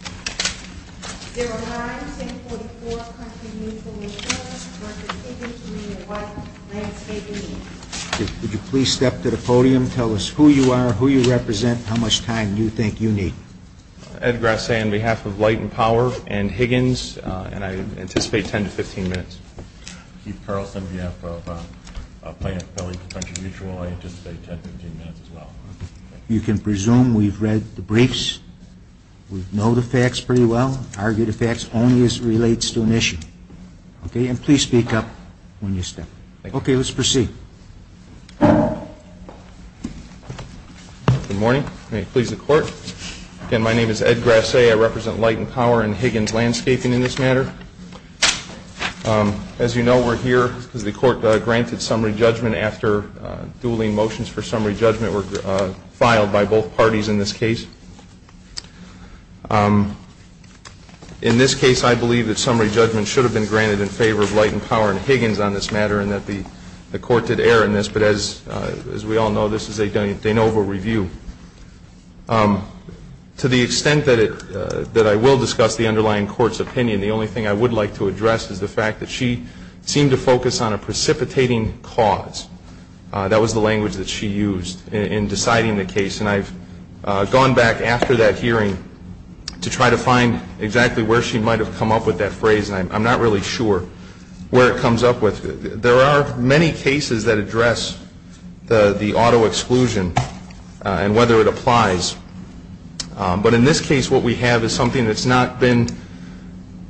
05-644 Country Mutual Insurance v. Higgins Green & White Landscaping, Inc. Ed Grassi, on behalf of Light & Power and Higgins, and I anticipate 10 to 15 minutes. Keith Carlson, on behalf of Planned Parenthood and Country Mutual, I anticipate 10 to 15 minutes as well. Ed Grassi, on behalf of Planned Parenthood and Country Mutual, I anticipate 10 to 15 minutes. In this case, I believe that summary judgment should have been granted in favor of Leighton Power and Higgins on this matter, and that the court did err in this, but as we all know, this is a de novo review. To the extent that I will discuss the underlying court's opinion, the only thing I would like to address is the fact that she seemed to focus on a precipitating cause. That was the language that she used in deciding the case, and I've gone back after that hearing to try to find exactly where she might have come up with that phrase, and I'm not really sure where it comes up with. There are many cases that address the auto exclusion and whether it applies, but in this case what we have is something that's not been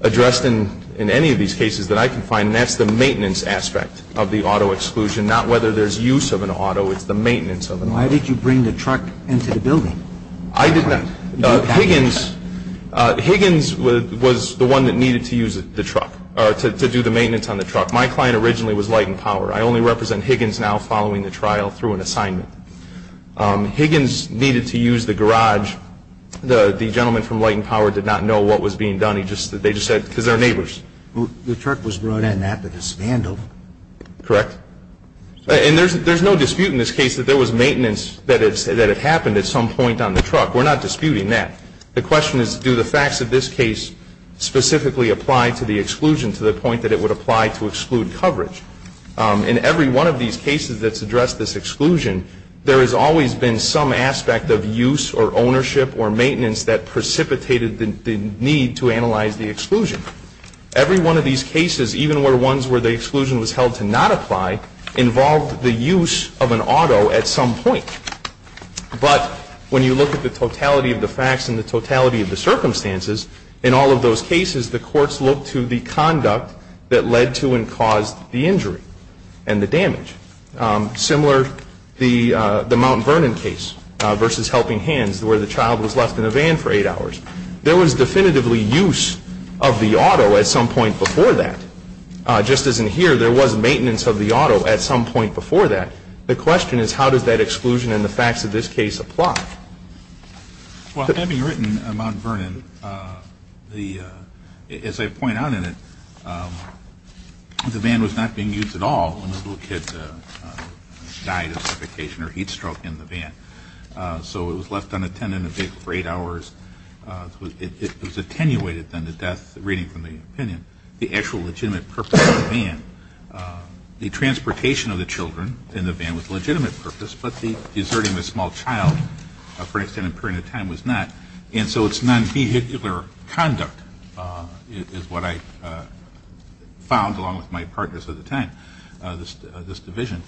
addressed in any of these cases that I can find, and that's the maintenance aspect of the auto exclusion, not whether there's use of an auto, it's the maintenance of an auto. Why did you bring the truck into the building? Higgins was the one that needed to do the maintenance on the truck. My client originally was Leighton Power. I only represent Higgins now following the trial through an assignment. Higgins needed to use the garage. The gentleman from Leighton Power did not know what was being done. They just said, because they're neighbors. The truck was brought in after the scandal. Correct. And there's no dispute in this case that there was maintenance that had happened at some point on the truck. We're not disputing that. The question is, do the facts of this case specifically apply to the exclusion to the point that it would apply to exclude coverage? In every one of these cases that's addressed this exclusion, there has always been some aspect of use or ownership or maintenance that precipitated the need to analyze the exclusion. Every one of these cases, even ones where the exclusion was held to not apply, involved the use of an auto at some point. But when you look at the totality of the facts and the totality of the circumstances, in all of those cases, the courts looked to the conduct that led to and caused the injury and the damage. Similar, the Mount Vernon case versus helping hands where the child was left in a van for eight hours. There was definitively use of the auto at some point before that. Just as in here, there was maintenance of the auto at some point before that. The question is, how does that exclusion and the facts of this case apply? Well, having written Mount Vernon, as I point out in it, the van was not being used at all when the little kid died of suffocation or heat stroke in the van. So it was left unattended in the van for eight hours. It was attenuated then to death, reading from the opinion, the actual legitimate purpose of the van. The transportation of the children in the van was legitimate purpose, but the deserting of a small child for an extended period of time was not. And so it's non-vehicular conduct is what I found along with my partners at the time, this division.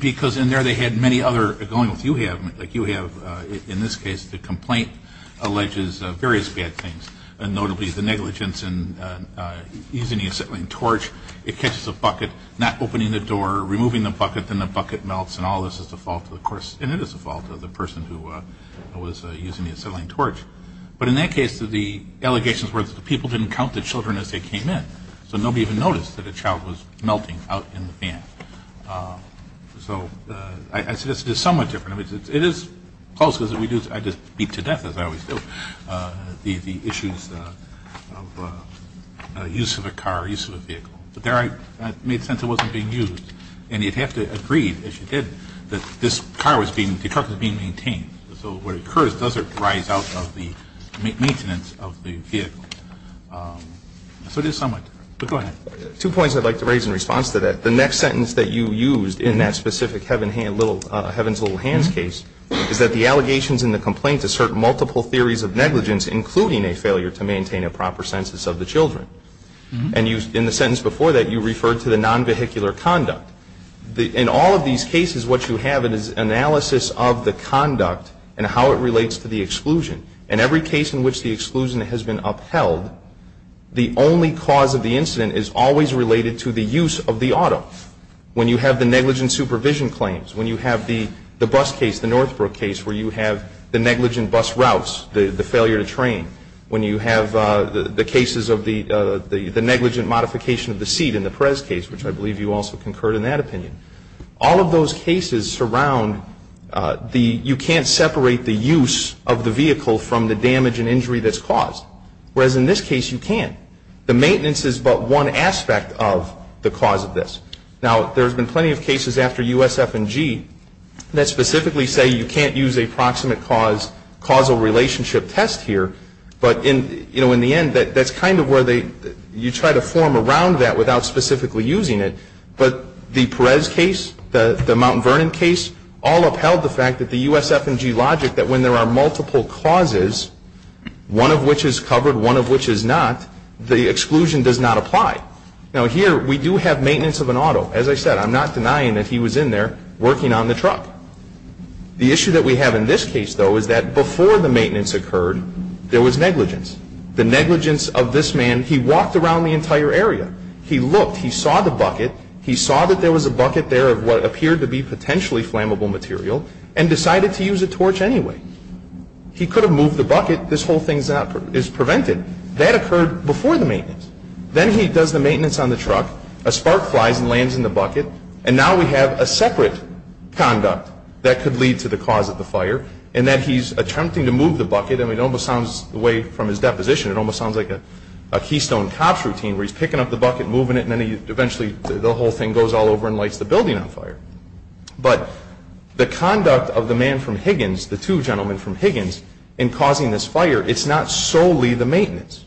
Because in there they had many other going on. You have, in this case, the complaint alleges various bad things, notably the negligence in using the acetylene torch. It catches the bucket, not opening the door, removing the bucket, then the bucket melts, and all this is the fault of the person who was using the acetylene torch. But in that case, the allegations were that the people didn't count the children as they came in. So nobody even noticed that a child was melting out in the van. So this is somewhat different. It is close, as we do, I just speak to death as I always do, the issues of use of a car, use of a vehicle. But there I made sense it wasn't being used. And you'd have to agree, if you did, that this car was being, the truck was being maintained. So what occurs, does it rise out of the maintenance of the vehicle? So this is somewhat different. Go ahead. Two points I'd like to raise in response to that. The next sentence that you used in that specific Heaven's Little Hands case is that the allegations in the complaint assert multiple theories of negligence, including a failure to maintain a proper census of the children. And in the sentence before that, you referred to the non-vehicular conduct. In all of these cases, what you have is analysis of the conduct and how it relates to the exclusion. In every case in which the exclusion has been upheld, the only cause of the incident is always related to the use of the auto. When you have the negligent supervision claims, when you have the bus case, the Northbrook case, where you have the negligent bus routes, the failure to train, when you have the cases of the negligent modification of the seat in the Perez case, which I believe you also concurred in that opinion. All of those cases surround the, you can't separate the use of the vehicle from the damage and injury that's caused, whereas in this case you can. The maintenance is but one aspect of the cause of this. Now, there have been plenty of cases after USF&G that specifically say you can't use a proximate cause causal relationship test here, but in the end, that's kind of where you try to form around that without specifically using it, but the Perez case, the Mount Vernon case, all upheld the fact that the USF&G logic that when there are multiple causes, one of which is covered, one of which is not, the exclusion does not apply. Now, here we do have maintenance of an auto. As I said, I'm not denying that he was in there working on the truck. The issue that we have in this case, though, is that before the maintenance occurred, there was negligence. The negligence of this man. He walked around the entire area. He looked. He saw the bucket. He saw that there was a bucket there of what appeared to be potentially flammable material and decided to use a torch anyway. He could have moved the bucket. This whole thing is prevented. That occurred before the maintenance. Then he does the maintenance on the truck. A spark flies and lands in the bucket, and now we have a separate conduct that could lead to the cause of the fire, and then he's attempting to move the bucket. It almost sounds the way from his deposition. It almost sounds like a Keystone cops routine where he's picking up the bucket, moving it, and then eventually the whole thing goes all over and lights the building on fire. But the conduct of the man from Higgins, the two gentlemen from Higgins, in causing this fire, it's not solely the maintenance.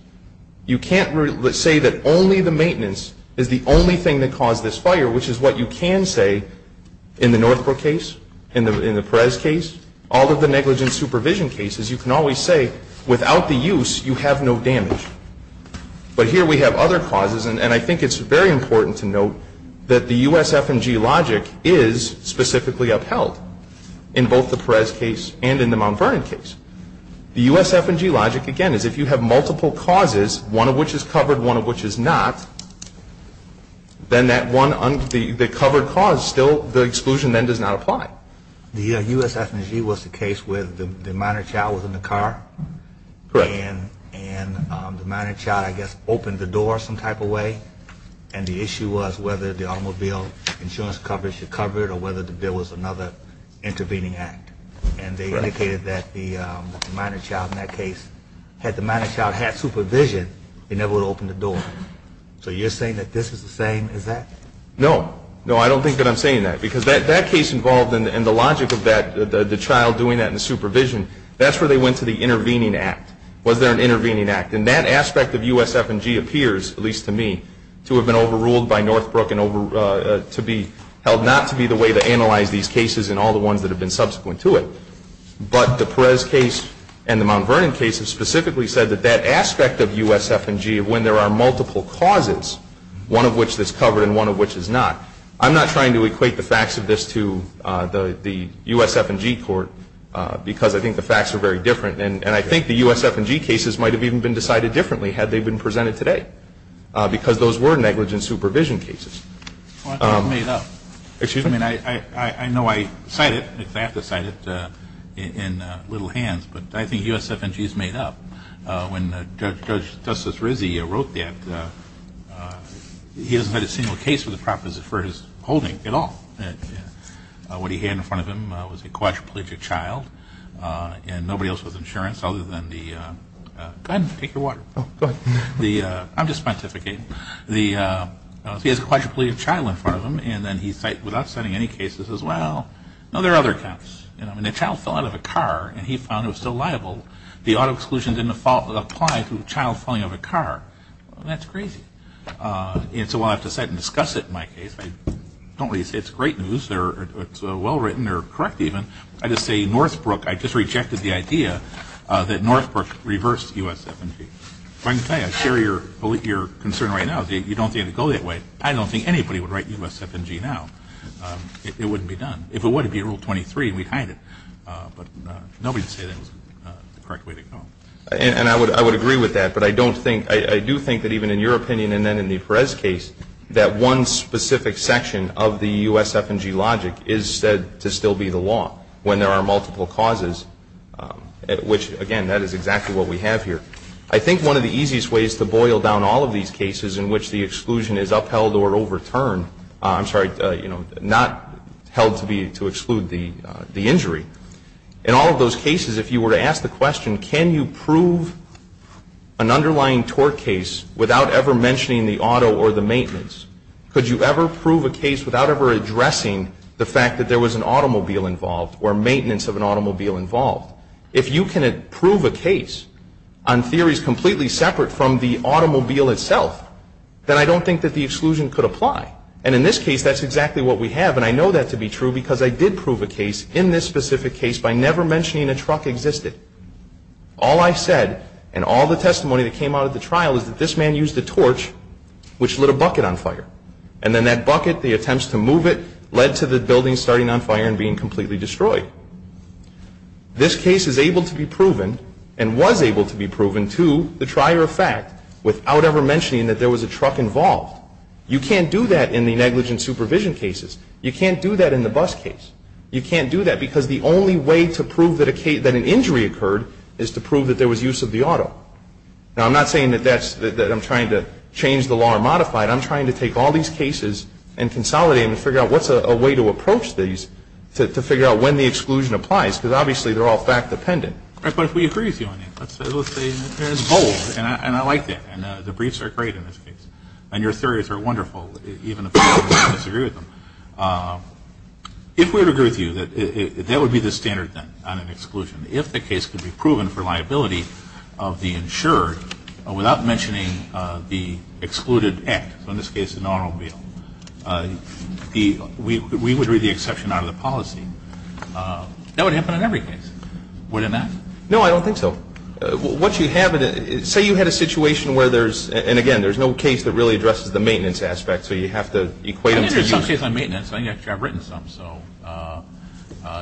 You can't say that only the maintenance is the only thing that caused this fire, which is what you can say in the Northbrook case, in the Perez case, all of the negligent supervision cases. You can always say without the use, you have no damage. But here we have other causes, and I think it's very important to note that the USF&G logic is specifically upheld in both the Perez case and in the Mount Vernon case. The USF&G logic, again, is if you have multiple causes, one of which is covered, one of which is not, then that one, the covered cause still, the exclusion then does not apply. The USF&G was the case where the minor child was in the car. Correct. And the minor child, I guess, opened the door some type of way, and the issue was whether the automobile insurance coverage was covered or whether there was another intervening act. And they indicated that the minor child in that case, had the minor child had supervision, they never would have opened the door. So you're saying that this is the same as that? No. No, I don't think that I'm saying that. Because that case involved, and the logic of that, the child doing that in the supervision, that's where they went to the intervening act, whether there was an intervening act. And that aspect of USF&G appears, at least to me, to have been overruled by Northbrook and to be held not to be the way to analyze these cases and all the ones that have been subsequent to it. But the Perez case and the Mount Vernon case specifically said that that aspect of USF&G, when there are multiple causes, one of which is covered and one of which is not, I'm not trying to equate the facts of this to the USF&G court because I think the facts are very different. And I think the USF&G cases might have even been decided differently had they been presented today because those were negligent supervision cases. Well, it's all made up. Excuse me. I know I cited it in little hands, but I think USF&G is made up. When Judge Justice Rizzi wrote that, he doesn't have a single case of the property for his holding at all. What he had in front of him was a quadriplegic child and nobody else with insurance other than the – Ben, take your water. Go ahead. I'm just pontificating. He has a quadriplegic child in front of him, and then he cites without citing any cases as well. No, there are other accounts. I mean, the child fell out of a car, and he found it was still liable. The auto exclusion didn't apply to the child falling out of a car. That's crazy. And so while I have to cite and discuss it in my case, I don't really say it's great news or it's well-written or correct even. I just say Northbrook – I just rejected the idea that Northbrook reversed USF&G. I'm trying to say I share your concern right now. If you don't think it would go that way, I don't think anybody would write USF&G now. It wouldn't be done. If it would, it would be Rule 23, and we'd hide it. But nobody would say that it was the correct way to go. And I would agree with that, but I don't think – I do think that even in your opinion and then in the Perez case, that one specific section of the USF&G logic is said to still be the law when there are multiple causes, which, again, that is exactly what we have here. I think one of the easiest ways to boil down all of these cases in which the exclusion is upheld or overturned – I'm sorry, not held to exclude the injury – in all of those cases, if you were to ask the question, can you prove an underlying tort case without ever mentioning the auto or the maintenance, could you ever prove a case without ever addressing the fact that there was an automobile involved or maintenance of an automobile involved? If you can prove a case on theories completely separate from the automobile itself, then I don't think that the exclusion could apply. And in this case, that's exactly what we have. And I know that to be true because I did prove a case in this specific case by never mentioning a truck existed. All I said and all the testimony that came out of the trial is that this man used a torch which lit a bucket on fire. And then that bucket, the attempts to move it, led to the building starting on fire and being completely destroyed. This case is able to be proven and was able to be proven to the trier of fact without ever mentioning that there was a truck involved. You can't do that in the negligent supervision cases. You can't do that in the bus case. You can't do that because the only way to prove that an injury occurred is to prove that there was use of the auto. Now, I'm not saying that I'm trying to change the law or modify it. I'm saying that I'm trying to take all these cases and consolidate them and figure out what's a way to approach these to figure out when the exclusion applies because obviously they're all fact-dependent. But we agree with you on that. And I like that. And the briefs are great in this case. And your theories are wonderful, even if we disagree with them. If we were to agree with you, that would be the standard thing on an exclusion. If the case could be proven for liability of the insured without mentioning the excluded act, in this case an automobile, we would read the exception out of the policy. That would happen on every case. Would it not? No, I don't think so. Say you had a situation where there's, and again, there's no case that really addresses the maintenance aspect, so you'd have to equate them. There's some cases on maintenance. I've written some.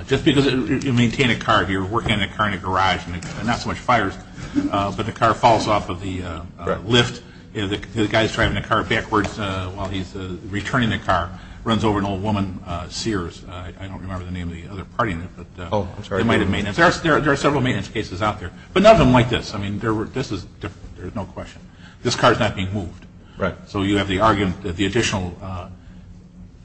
Just because you maintain a car, you're working on a car in a garage, not so much fires, but the car falls off of the lift. The guy's driving the car backwards while he's returning the car. Runs over an old woman, Sears. I don't remember the name of the other party. Oh, I'm sorry. There are several maintenance cases out there. But none of them like this. I mean, this is different. There's no question. This car's not being moved. Right. So you have the argument that the additional,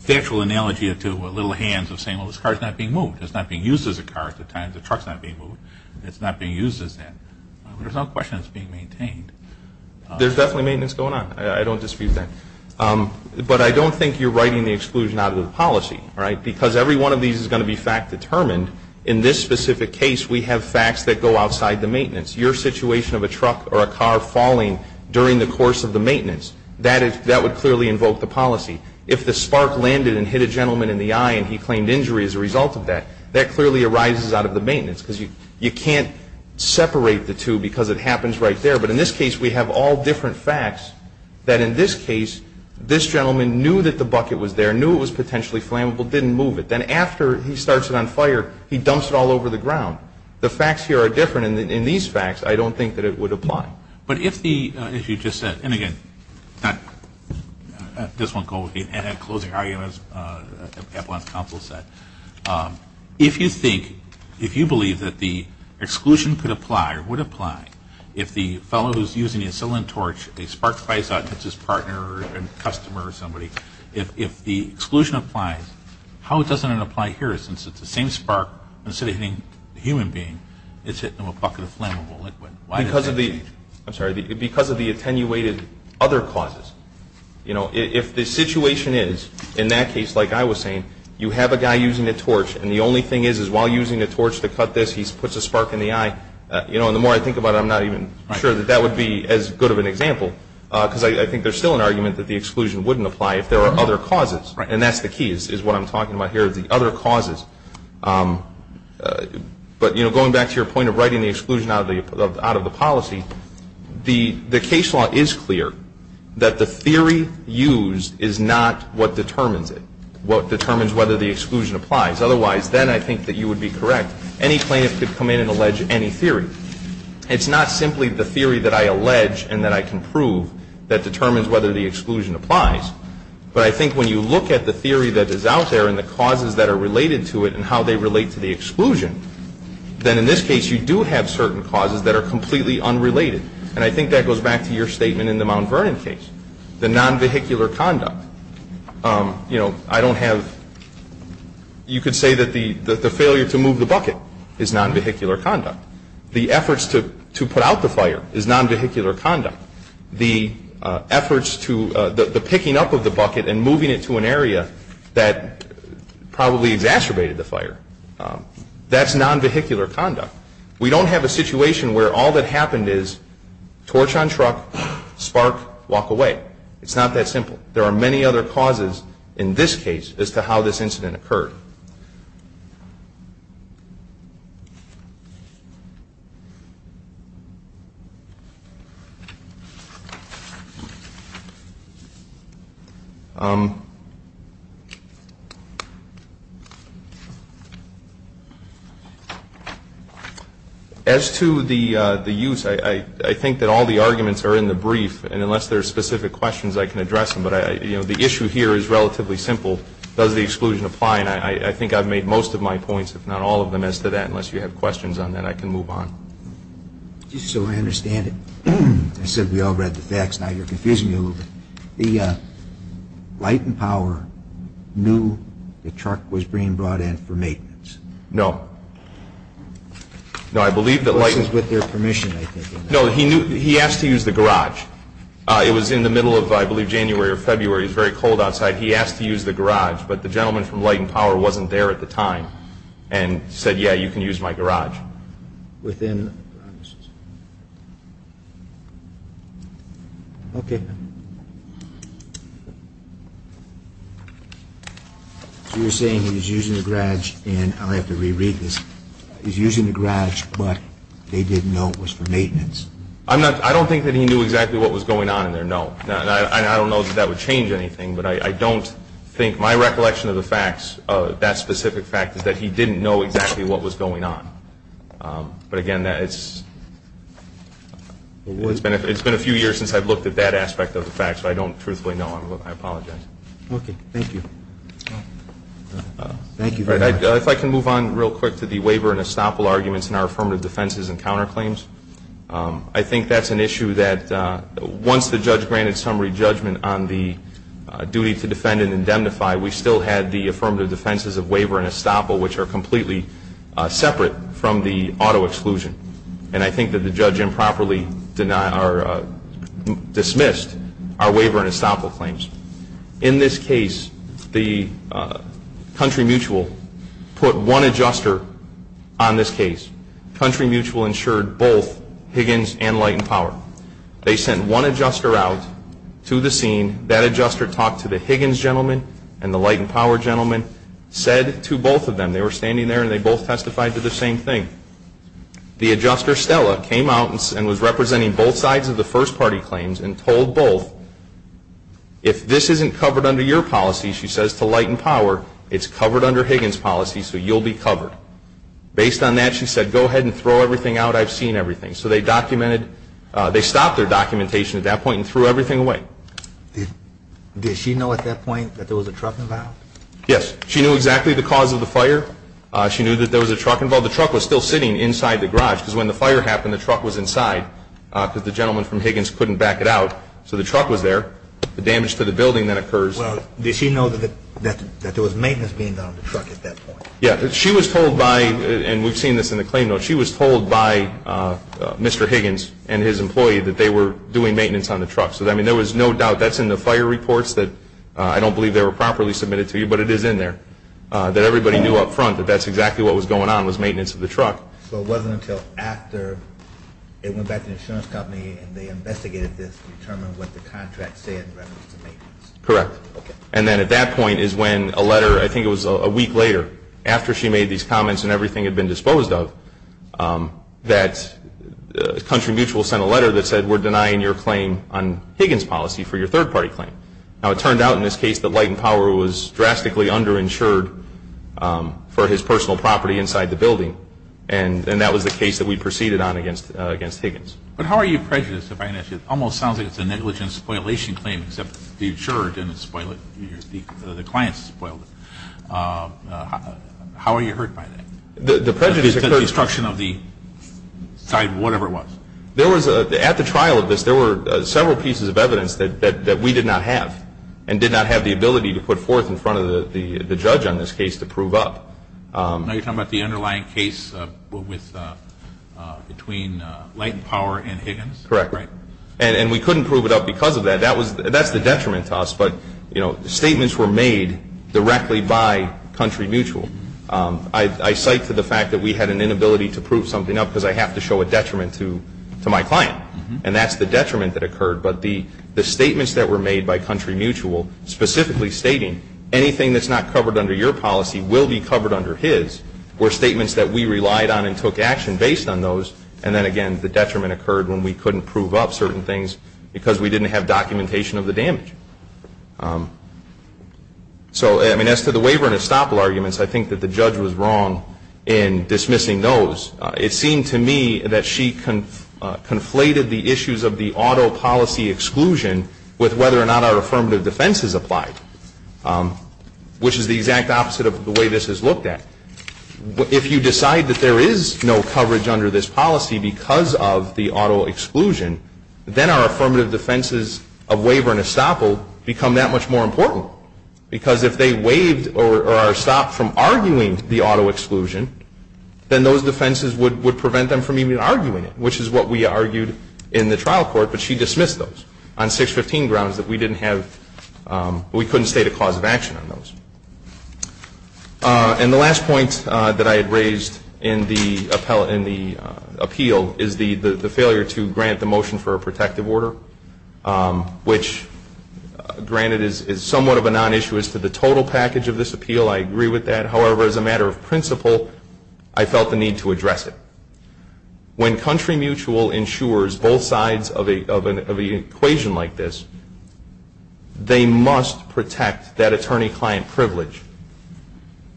the actual analogy to little hands of saying, well, this car's not being moved. It's not being used as a car at the time the truck's not being moved. It's not being used as that. There's no question it's being maintained. There's definitely maintenance going on. I don't dispute that. But I don't think you're writing the exclusion out of the policy, right, because every one of these is going to be fact determined. In this specific case, we have facts that go outside the maintenance. Your situation of a truck or a car falling during the course of the maintenance, that would clearly invoke the policy. If the spark landed and hit a gentleman in the eye and he claimed injury as a result of that, that clearly arises out of the maintenance because you can't separate the two because it happens right there. But in this case, we have all different facts that in this case, this gentleman knew that the bucket was there, knew it was potentially flammable, didn't move it. Then after he starts it on fire, he dumps it all over the ground. The facts here are different. And in these facts, I don't think that it would apply. But if the, as you just said, and again, this won't go with the closing arguments, if you think, if you believe that the exclusion could apply or would apply, if the fellow who's using the acetylene torch, a spark flies out and hits his partner or a customer or somebody, if the exclusion applies, how doesn't it apply here since it's the same spark, instead of hitting a human being, it's hitting a bucket of flammable liquid? Because of the attenuated other causes. If the situation is, in that case, like I was saying, you have a guy using a torch and the only thing is, is while using the torch to cut this, he puts a spark in the eye, the more I think about it, I'm not even sure that that would be as good of an example because I think there's still an argument that the exclusion wouldn't apply if there are other causes. And that's the key is what I'm talking about here, the other causes. But going back to your point of writing the exclusion out of the policy, the case law is clear that the theory used is not what determines it, what determines whether the exclusion applies. Otherwise, then I think that you would be correct. Any plaintiff could come in and allege any theory. It's not simply the theory that I allege and that I can prove that determines whether the exclusion applies. But I think when you look at the theory that is out there and the causes that are related to it and how they relate to the exclusion, then in this case, you do have certain causes that are completely unrelated. And I think that goes back to your statement in the Mount Vernon case. The nonvehicular conduct, you know, I don't have, you could say that the failure to move the bucket is nonvehicular conduct. The efforts to put out the fire is nonvehicular conduct. The efforts to, the picking up of the bucket and moving it to an area that probably exacerbated the fire, that's nonvehicular conduct. We don't have a situation where all that happened is torch on truck, spark, walk away. It's not that simple. There are many other causes in this case as to how this incident occurred. As to the use, I think that all the arguments are in the brief. And unless there are specific questions, I can address them. But, you know, the issue here is relatively simple. Does the exclusion apply? And I think I've made most of my points, if not all of them. As to that, unless you have questions on that, I can move on. So I understand it. You said we all read the facts, now you're confusing me a little bit. The Light and Power knew the truck was being brought in for maintenance. No. No, I believe that Light and Power... This is with their permission, I think. No, he asked to use the garage. It was in the middle of, I believe, January or February. It was very cold outside. He asked to use the garage, but the gentleman from Light and Power wasn't there at the time and said, yeah, you can use my garage. Within... Okay. You were saying he was using the garage, and I'm going to have to re-read this. He was using the garage, but they didn't know it was for maintenance. I don't think that he knew exactly what was going on in there, no. I don't know that that would change anything, but I don't think... My recollection of the facts, that specific fact, is that he didn't know exactly what was going on. But, again, it's been a few years since I've looked at that aspect of the facts, so I don't truthfully know. I apologize. Okay. Thank you. Thank you. If I can move on real quick to the waiver and estoppel arguments in our affirmative defenses and counterclaims. I think that's an issue that once the judge granted summary judgment on the duty to defend and indemnify, we still had the affirmative defenses of waiver and estoppel, which are completely separate from the auto exclusion. And I think that the judge improperly dismissed our waiver and estoppel claims. In this case, Country Mutual put one adjuster on this case. Country Mutual insured both Higgins and Light and Power. They sent one adjuster out to the scene. That adjuster talked to the Higgins gentleman and the Light and Power gentleman, said to both of them, they were standing there, and they both testified to the same thing. The adjuster, Stella, came out and was representing both sides of the first-party claims and told both, if this isn't covered under your policy, she says, to Light and Power, it's covered under Higgins' policy, so you'll be covered. Based on that, she said, go ahead and throw everything out. I've seen everything. So they stopped their documentation at that point and threw everything away. Did she know at that point that there was a truck involved? Yes. She knew exactly the cause of the fire. She knew that there was a truck involved. The truck was still sitting inside the garage because when the fire happened, the truck was inside because the gentleman from Higgins couldn't back it out. So the truck was there. The damage to the building that occurs. Well, did she know that there was maintenance being done on the truck at that point? Yes. She was told by, and we've seen this in the claim, though, she was told by Mr. Higgins and his employee that they were doing maintenance on the truck. So, I mean, there was no doubt. That's in the fire reports that I don't believe they were properly submitted to you, but it is in there, that everybody knew up front that that's exactly what was going on, was maintenance of the truck. So it wasn't until after they went back to the insurance company and they investigated this to determine what the contract said in reference to maintenance. Correct. Okay. And then at that point is when a letter, I think it was a week later, after she made these comments and everything had been disposed of, that Country Mutual sent a letter that said, we're denying your claim on Higgins' policy for your third-party claim. Now, it turned out in this case that Light and Power was drastically underinsured for his personal property inside the building, and that was the case that we proceeded on against Higgins. But how are you prejudiced, if I may ask you, it almost sounds like it's a negligent spoilation claim, except the insurer didn't spoil it, the client spoiled it. How are you hurt by that? The prejudice is the destruction of the site, whatever it was. At the trial of this, there were several pieces of evidence that we did not have and did not have the ability to put forth in front of the judge on this case to prove up. Now you're talking about the underlying case between Light and Power and Higgins? Correct. And we couldn't prove it up because of that. That's the detriment to us, but statements were made directly by Country Mutual. I cite for the fact that we had an inability to prove something up because I have to show a detriment to my client, and that's the detriment that occurred. But the statements that were made by Country Mutual, specifically stating anything that's not covered under your policy will be covered under his, were statements that we relied on and took action based on those, and then again the detriment occurred when we couldn't prove up certain things because we didn't have documentation of the damage. So as to the waiver and estoppel arguments, I think that the judge was wrong in dismissing those. It seemed to me that she conflated the issues of the auto policy exclusion with whether or not our affirmative defense is applied, which is the exact opposite of the way this is looked at. If you decide that there is no coverage under this policy because of the auto exclusion, then our affirmative defenses of waiver and estoppel become that much more important because if they waived or are stopped from arguing the auto exclusion, then those defenses would prevent them from even arguing it, which is what we argued in the trial court, but she dismissed those on 615 grounds that we couldn't state a cause of action on those. And the last point that I had raised in the appeal is the failure to grant the motion for a protective order, which granted is somewhat of a non-issue as to the total package of this appeal. I agree with that. However, as a matter of principle, I felt the need to address it. When country mutual ensures both sides of an equation like this, they must protect that attorney-client privilege,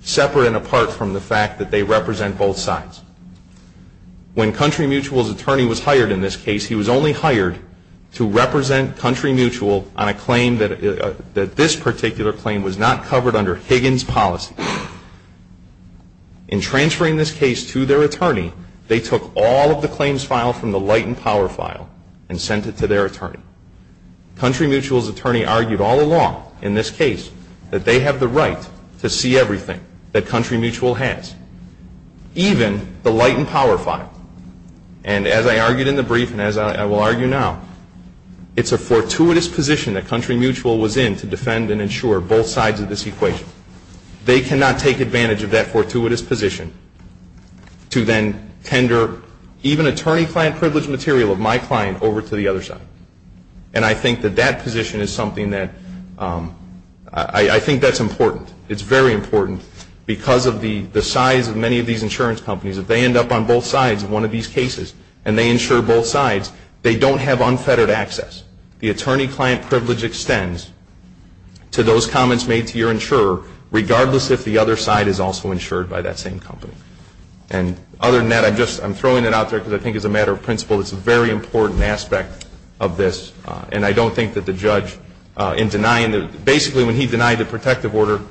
separate and apart from the fact that they represent both sides. When country mutual's attorney was hired in this case, he was only hired to represent country mutual on a claim that this particular claim was not covered under Higgins' policy. In transferring this case to their attorney, they took all of the claims file from the light and power file and sent it to their attorney. Country mutual's attorney argued all along in this case that they have the right to see everything that country mutual has, even the light and power file. And as I argued in the brief and as I will argue now, it's a fortuitous position that country mutual was in to defend and ensure both sides of this equation. They cannot take advantage of that fortuitous position to then tender even attorney-client privilege material of my client over to the other side. And I think that that position is something that's important. It's very important because of the size of many of these insurance companies. If they end up on both sides of one of these cases and they insure both sides, they don't have unfettered access. The attorney-client privilege extends to those comments made to your insurer, regardless if the other side is also insured by that same company. And other than that, I'm throwing that out there because I think as a matter of principle, it's a very important aspect of this. And I don't think that the judge in denying this, basically when he denied the protective order,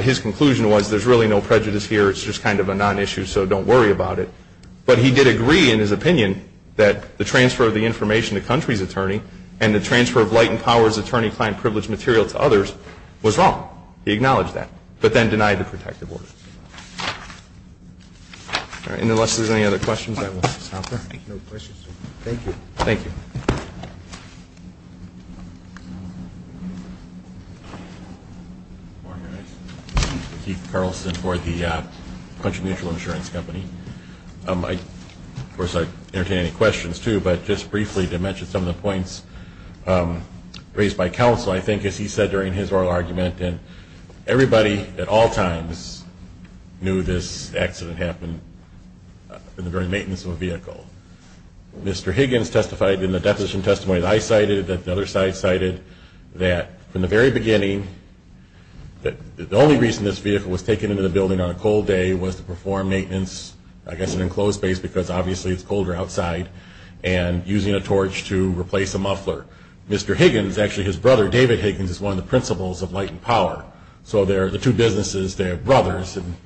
his conclusion was there's really no prejudice here. It's just kind of a non-issue, so don't worry about it. But he did agree in his opinion that the transfer of the information to the country's attorney and the transfer of Leighton Power's attorney-client privilege material to others was wrong. He acknowledged that, but then denied the protective order. And unless there's any other questions, I will stop there. Thank you. Thank you. Steve Carlson for the Country Mutual Insurance Company. Of course I'd entertain any questions too, but just briefly to mention some of the points raised by counsel. I think as he said during his oral argument, everybody at all times knew this accident happened during maintenance of a vehicle. Mr. Higgins testified in the definition testimony that I cited, that the other side cited, that from the very beginning, the only reason this vehicle was taken into the building on a cold day was to perform maintenance, I guess in enclosed space because obviously it's colder outside, and using a torch to replace a muffler. Mr. Higgins, actually his brother David Higgins, is one of the principals of Leighton Power. So they're the two businesses, they're brothers, and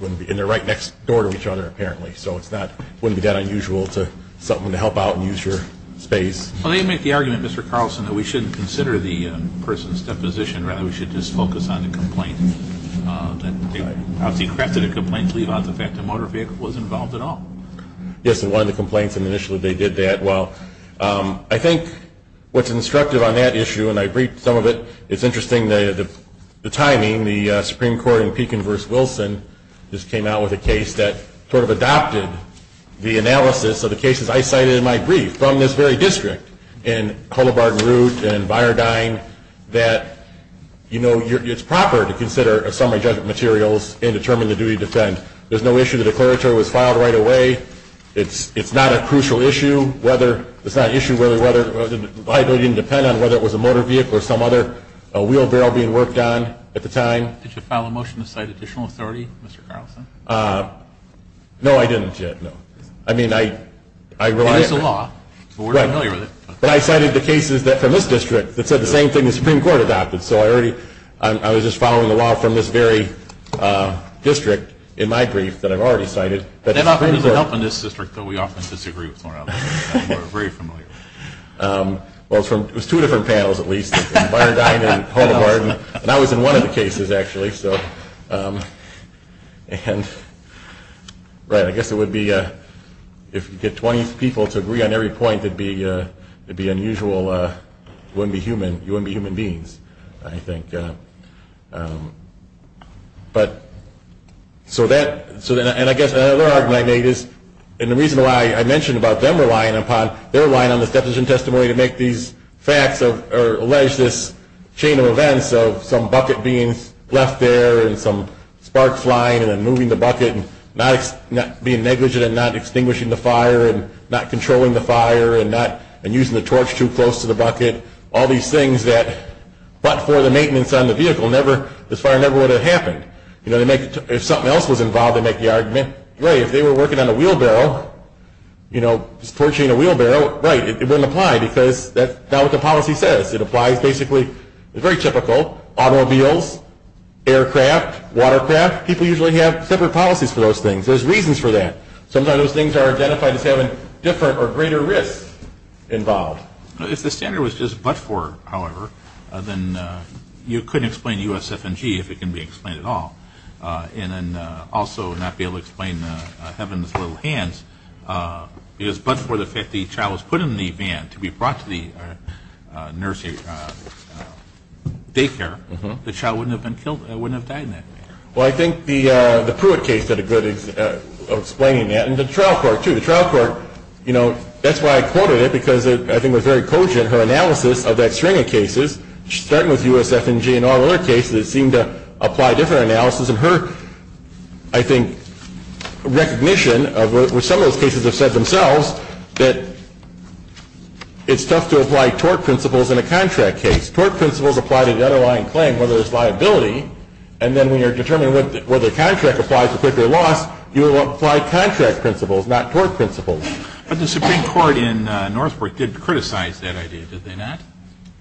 they're right next door to each other apparently. So it's not going to be that unusual for something to help out and use your space. Well, they make the argument, Mr. Carlson, that we shouldn't consider the person's deposition. Rather, we should just focus on the complaint. They probably crafted a complaint to leave out the fact the motor vehicle was involved at all. Yes, they wanted to complain initially they did that. Well, I think what's instructive on that issue, and I briefed some of it, it's interesting the timing. The Supreme Court in Pekin v. Wilson just came out with a case that sort of adopted the analysis of the cases I cited in my brief from this very district in Cullibard and Root and Byrdine that, you know, it's proper to consider some of the materials and determine the duty to defend. There's no issue the declaratory was filed right away. It's not a crucial issue whether it was a motor vehicle or some other wheelbarrow being worked on at the time. Did you file a motion to cite additional authority, Mr. Carlson? No, I didn't yet, no. I mean, I wrote it. It's a law. Right. But I cited the cases from this district that said the same thing the Supreme Court adopted. So I was just following the law from this very district in my brief that I've already cited. That often doesn't help in this district, though we often disagree with one another. We're very familiar. Well, there's two different panels, at least, in Byrdine and Cullibard, and I was in one of the cases, actually. And, right, I guess it would be, if you get 20 people to agree on every point, it would be unusual. You wouldn't be human. You wouldn't be human beings, I think. So that, and I guess another argument I made is, and the reason why I mentioned about them relying upon their line on this definition testimony to make these facts or allege this chain of events of some bucket being left there and some sparks flying and then moving the bucket and being negligent in not extinguishing the fire and not controlling the fire and using the torch too close to the bucket, all these things that, but for the maintenance on the vehicle, this fire never would have happened. If something else was involved in making the argument, really, if they were working on a wheelbarrow, you know, forging a wheelbarrow, right, it wouldn't apply because that's not what the policy says. It applies basically, it's very typical, automobiles, aircraft, watercraft, people usually have separate policies for those things. There's reasons for that. Sometimes those things are identified as having different or greater risk involved. If the standard was just but-for, however, then you couldn't explain USF&G if it can be explained at all. And then also not be able to explain them in little hands because but for the fact the child was put in the van to be brought to the daycare, the child wouldn't have died in that. Well, I think the Pruitt case did a good job of explaining that and the trial court too. The trial court, you know, that's why I quoted it because I think it was very poignant, her analysis of that string of cases, starting with USF&G and all the other cases that seemed to apply to her analysis and her, I think, recognition of what some of those cases have said themselves, that it's tough to apply tort principles in a contract case. Tort principles apply to the underlying claim, whether there's liability, and then when you're determining whether a contract applies to Pruitt v. Law, you apply contract principles, not tort principles. But the Supreme Court in Northbrook did criticize that idea, did they not?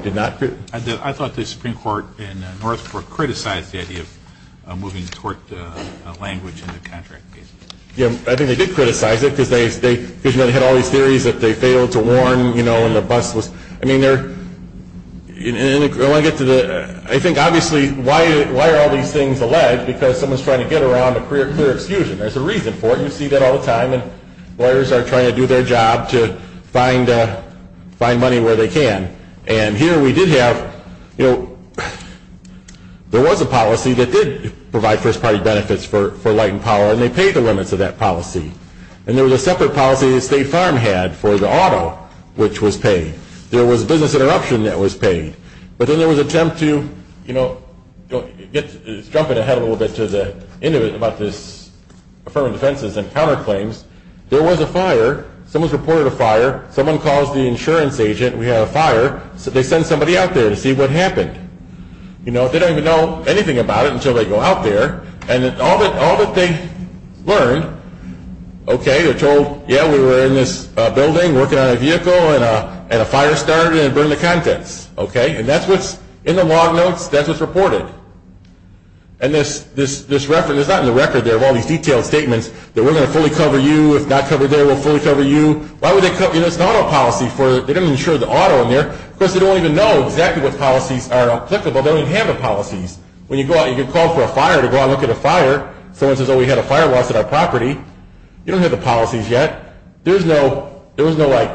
Did not? I thought the Supreme Court in Northbrook criticized the idea of moving tort language in the contract case. Yeah, I think they did criticize it because they had all these theories that they failed to warn, you know, and the bus was, I mean, they're, I think, obviously, why are all these things alleged? Because someone's trying to get around a clear excuse. There's a reason for it. You see that all the time when lawyers are trying to do their job to find money where they can. And here we did have, you know, there was a policy that did provide first-party benefits for electing power, and they paid the limits of that policy. And there was a separate policy that State Farm had for the auto, which was paid. There was business interruption that was paid. But then there was an attempt to, you know, just jump ahead a little bit to the end of it about this affirmative sentences and counterclaims. There was a fire. Someone reported a fire. Someone called the insurance agent. We had a fire. So they sent somebody out there to see what happened. You know, they don't even know anything about it until they go out there. And all that they learned, okay, they're told, yeah, we were in this building working on a vehicle, and a fire started, and they burned the content. Okay, and that's what's in the log notes. That's what's reported. And this record, it's not in the record. There are all these detailed statements that we're going to fully cover you. If not covered there, we'll fully cover you. Why would they cut you this auto policy? They didn't insure the auto in there. Of course, they don't even know exactly what policies are applicable. They don't even have a policy. When you go out and you get called for a fire, to go out and look at a fire, someone says, oh, we had a fire watch at our property. You don't have the policies yet. There was no, like,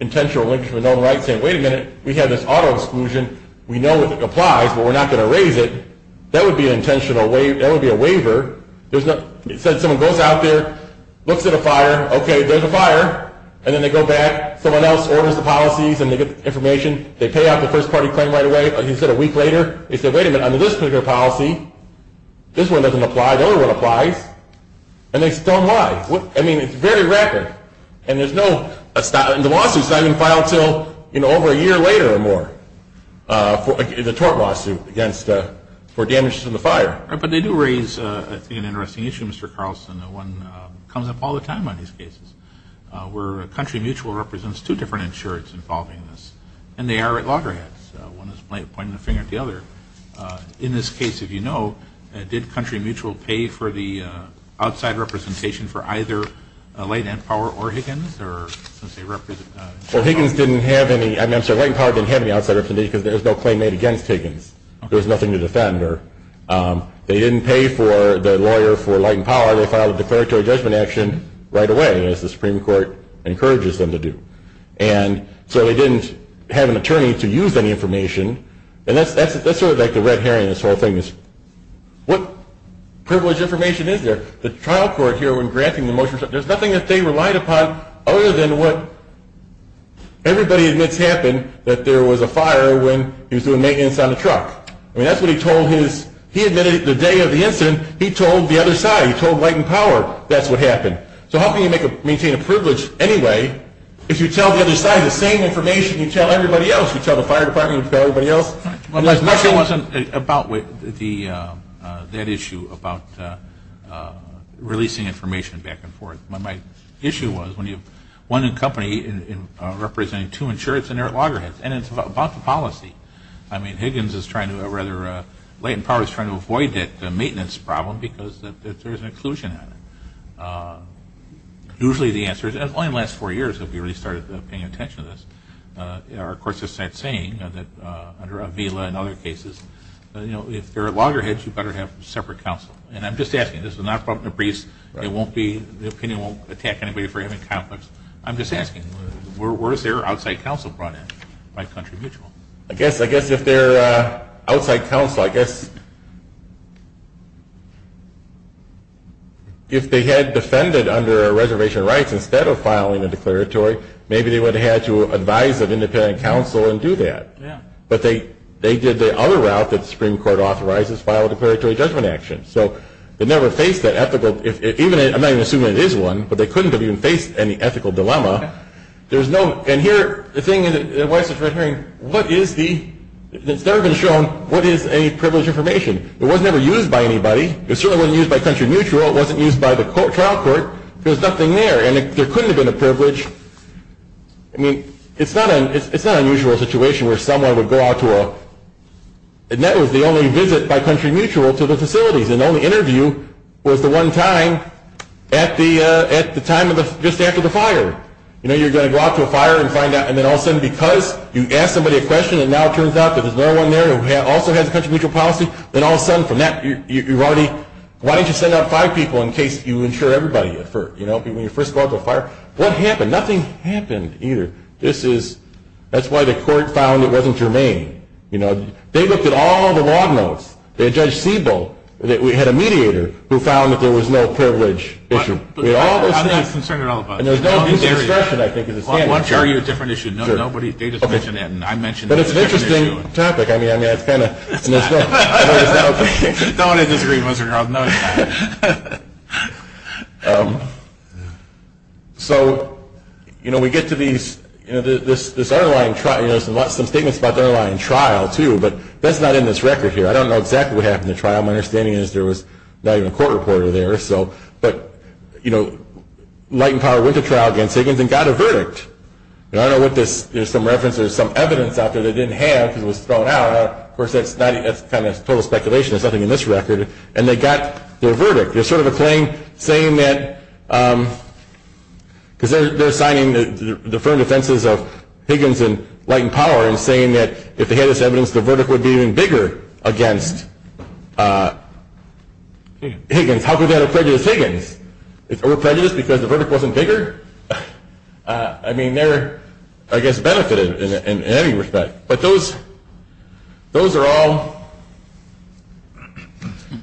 intentional, like, wait a minute. We had this auto exclusion. We know it applies, but we're not going to raise it. That would be intentional. That would be a waiver. It says someone goes out there, looks at a fire. Okay, there's a fire. And then they go back. Someone else orders the policies and they get the information. They pay off the first-party claim right away. Like you said, a week later. They say, wait a minute, under this particular policy, this one doesn't apply. The other one applies. And they tell them why. I mean, it's very record. And there's no, the lawsuit's not even filed until, you know, over a year later or more, the tort lawsuit against, for damages in the fire. But they do raise an interesting issue, Mr. Carlson, the one coming up all the time on these cases, where Country Mutual represents two different insurance involving this. And they are at loggerheads. One is pointing the finger at the other. In this case, if you know, did Country Mutual pay for the outside representation for either Light and Power or Higgins? Well, Higgins didn't have any, I'm sorry, Light and Power didn't have any outside representation because there was no claim made against Higgins. There was nothing to defend. They didn't pay for the lawyer for Light and Power. They filed a declaratory judgment action right away, as the Supreme Court encourages them to do. And so they didn't have an attorney to use any information. And that's sort of like the red herring of this whole thing. What privilege information is there? The trial court here, when granting the motion, there's nothing that they relied upon other than what everybody admits happened, that there was a fire when he was doing maintenance on the truck. I mean, that's what he admitted the day of the incident. He told the other side. He told Light and Power that's what happened. So how can you maintain a privilege anyway if you tell the other side the same information you tell everybody else, you tell the fire department, you tell everybody else, unless nothing was about that issue about releasing information back and forth. My issue was when you have one company representing two insurance and they're at loggerheads, and it's about the policy. I mean, Light and Power is trying to avoid that maintenance problem because there's an occlusion on it. Usually the answer is only in the last four years have you really started paying attention to this. Our courts are saying under Avila and other cases, you know, if they're at loggerheads, you better have separate counsel. And I'm just asking. This is not from the briefs. The opinion won't attack anybody for having conflicts. I'm just asking. Where was their outside counsel brought in by country mutual? I guess if they're outside counsel, I guess if they had defended under reservation rights instead of filing a declaratory, maybe they would have had to advise an independent counsel and do that. But they did the other route that the Supreme Court authorizes, file a declaratory judgment action. So they never faced that ethical, I'm not even assuming it is one, but they couldn't have even faced any ethical dilemma. And here the thing is, what is the, it's never been shown what is any privileged information. It was never used by anybody. It certainly wasn't used by country mutual. It wasn't used by the trial court. There's nothing there, and there couldn't have been a privilege. I mean, it's not an unusual situation where someone would go out to a, and that was the only visit by country mutual to the facility. The only interview was the one time at the time of the, just after the fire. You know, you're going to go out to a fire and find out, and then all of a sudden, because you asked somebody a question and now it turns out that there's no one there who also had a country mutual policy, then all of a sudden from that, you've already, why don't you send out five people in case you insure everybody at first? You know, when you first go out to a fire. What happened? Nothing happened either. This is, that's why the court found it wasn't germane. You know, they looked at all of the log notes. They judged Siebel, that we had a mediator, who found that there was no privilege issue. I'm not concerned at all about it. There's no need for instruction, I think, in this case. I'll show you a different issue. No, nobody, they just mentioned it, and I mentioned it. But it's an interesting topic. I mean, I mean, it's kind of. No one in this room was wrong. No one. So, you know, we get to these, you know, this underlying trial, you know, there's a lot of statements about the underlying trial, too, but that's not in this record here. I don't know exactly what happened in the trial. My understanding is there was not even a court reporter there. So, but, you know, Light and Power was a trial against Higgins and got a verdict. And I don't know what this, there's some reference, there's some evidence out there that it didn't have because it was thrown out. Of course, that's not, that's kind of total speculation. There's nothing in this record. And they got their verdict. There's sort of a claim saying that, because they're signing the deferred offenses of Higgins and Light and Power and saying that if they had this evidence, the verdict would be even bigger against Higgins. How could that have prejudiced Higgins? It's over prejudiced because the verdict wasn't bigger? I mean, they're, I guess, benefited in any respect. But those, those are all,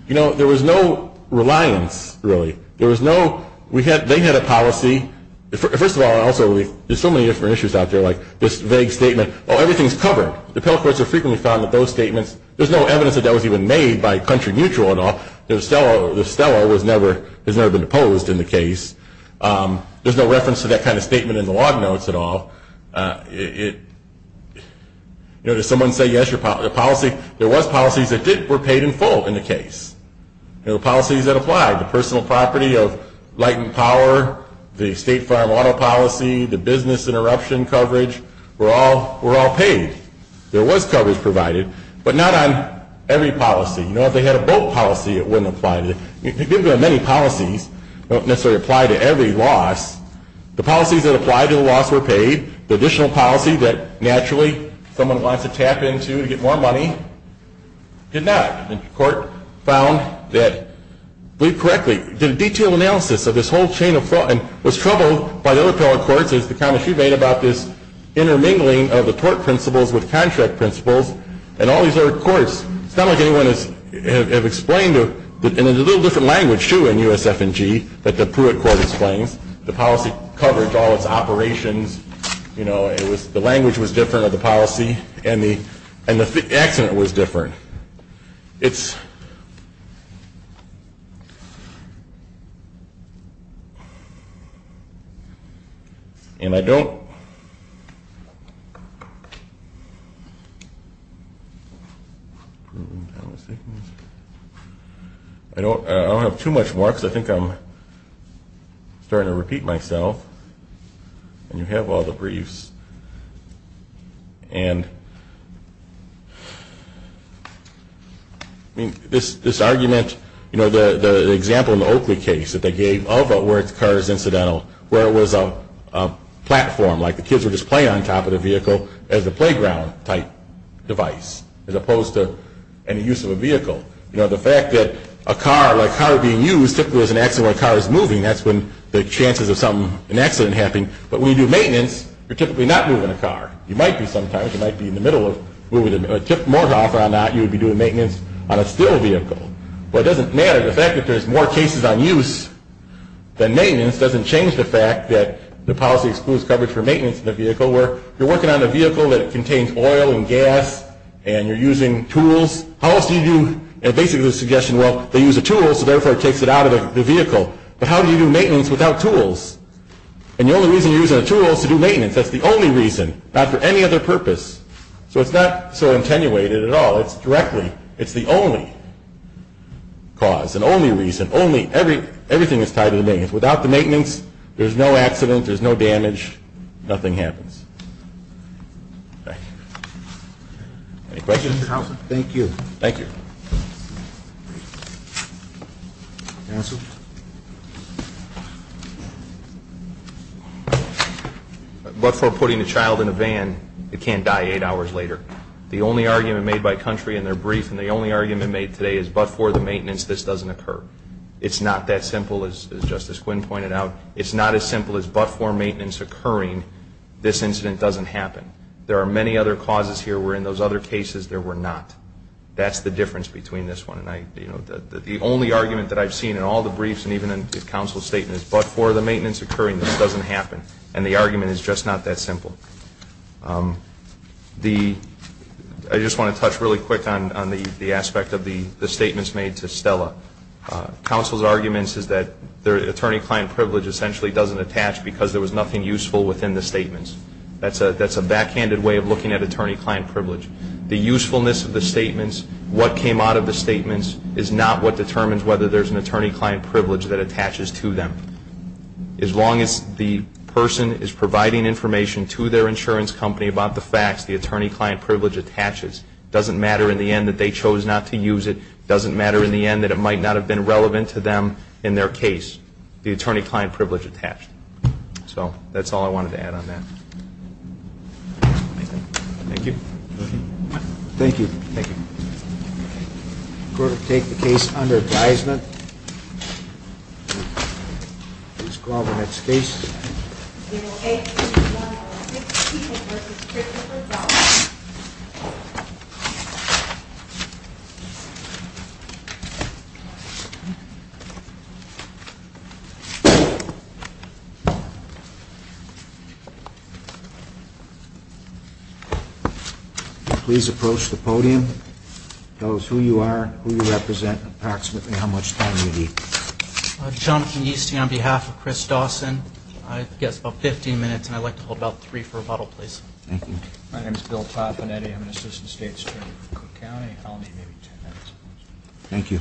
you know, there was no reliance, really. There was no, we had, they had a policy. First of all, also, there's so many different issues out there, like this vague statement, oh, everything's covered. The appeals courts have frequently found that those statements, there's no evidence that that was even made by country mutual and all. The seller, the seller was never, has never been deposed in the case. There's no reference to that kind of statement in the log notes at all. It, you know, there's someone saying, yes, your policy. There was policies that were paid in full in the case. There were policies that applied. The personal property of Light and Power, the State Farm Auto Policy, the business interruption coverage were all, were all paid. There was coverage provided, but not on every policy. You know, if they had a vote policy, it wouldn't apply. It didn't apply to many policies. It doesn't necessarily apply to every loss. The policies that apply to the loss were paid. The additional policy that, naturally, someone wants to tap into to get more money did not. And the court found that, believe correctly, the detailed analysis of this whole chain of thought and was troubled by the appeal court because the comment she made about this intermingling of the court principles with contract principles and all these other courts, some of them have explained in a little different language, too, in USF&G, that the Pruitt court explained. The policy coverage, all of the operations, you know, it was, the language was different of the policy, and the, and the accident was different. It's, and I don't, I don't have too much more because I think I'm, I'm starting to repeat myself. And you have all the briefs. And this, this argument, you know, the, the example in the Oakley case that they gave, all but where the car is incidental, where it was a, a platform, like the kids were just playing on top of the vehicle as a playground type device, as opposed to any use of a vehicle. You know, the fact that a car, a car being used typically is an accident when a car is moving. That's when there's chances of something, an accident happening. But when you do maintenance, you're typically not moving a car. You might be sometimes. You might be in the middle of moving a, a tip mortar off on that. You would be doing maintenance on a steel vehicle. But it doesn't matter. The fact that there's more cases on use than maintenance doesn't change the fact that the policy excludes coverage for maintenance of the vehicle, where you're working on a vehicle that contains oil and gas and you're using tools. Policy view, and basically the suggestion, well, they use the tools, so therefore it takes it out of the vehicle. But how do you do maintenance without tools? And the only reason you're using a tool is to do maintenance. That's the only reason, not for any other purpose. So it's not so attenuated at all. It's directly, it's the only cause and only reason, only, every, everything is tied to the maintenance. Without the maintenance, there's no accident, there's no damage, nothing happens. Thank you. Any questions? Thank you. Thank you. But for putting a child in a van, it can't die eight hours later. The only argument made by country, and they're brief, and the only argument made today is but for the maintenance, this doesn't occur. It's not that simple, as Justice Quinn pointed out. It's not as simple as but for maintenance occurring, this incident doesn't happen. There are many other causes here where in those other cases there were not. That's the difference between this one and I, you know, the only argument that I've seen in all the briefs and even in counsel's statements, but for the maintenance occurring, this doesn't happen. And the argument is just not that simple. The, I just want to touch really quick on the aspect of the statements made to Stella. Counsel's arguments is that the attorney-client privilege essentially doesn't attach because there was nothing useful within the statements. That's a backhanded way of looking at attorney-client privilege. The usefulness of the statements, what came out of the statements, is not what determines whether there's an attorney-client privilege that attaches to them. As long as the person is providing information to their insurance company about the facts, the attorney-client privilege attaches. It doesn't matter in the end that they chose not to use it. It doesn't matter in the end that it might not have been relevant to them in their case. The attorney-client privilege attached. So that's all I wanted to add on that. Thank you. Thank you. Thank you. I'm going to take the case under advisement. Ms. Glover next case. Please approach the podium. Tell us who you are, who you represent, and approximately how much time you need. I'm Jonathan Yeastie on behalf of Chris Dawson. I've got about 15 minutes, and I'd like to hold out three for rebuttal, please. Thank you. My name is Bill Papanetti. I'm an assistant state attorney for Cook County. I'll only be here for 10 minutes. Thank you.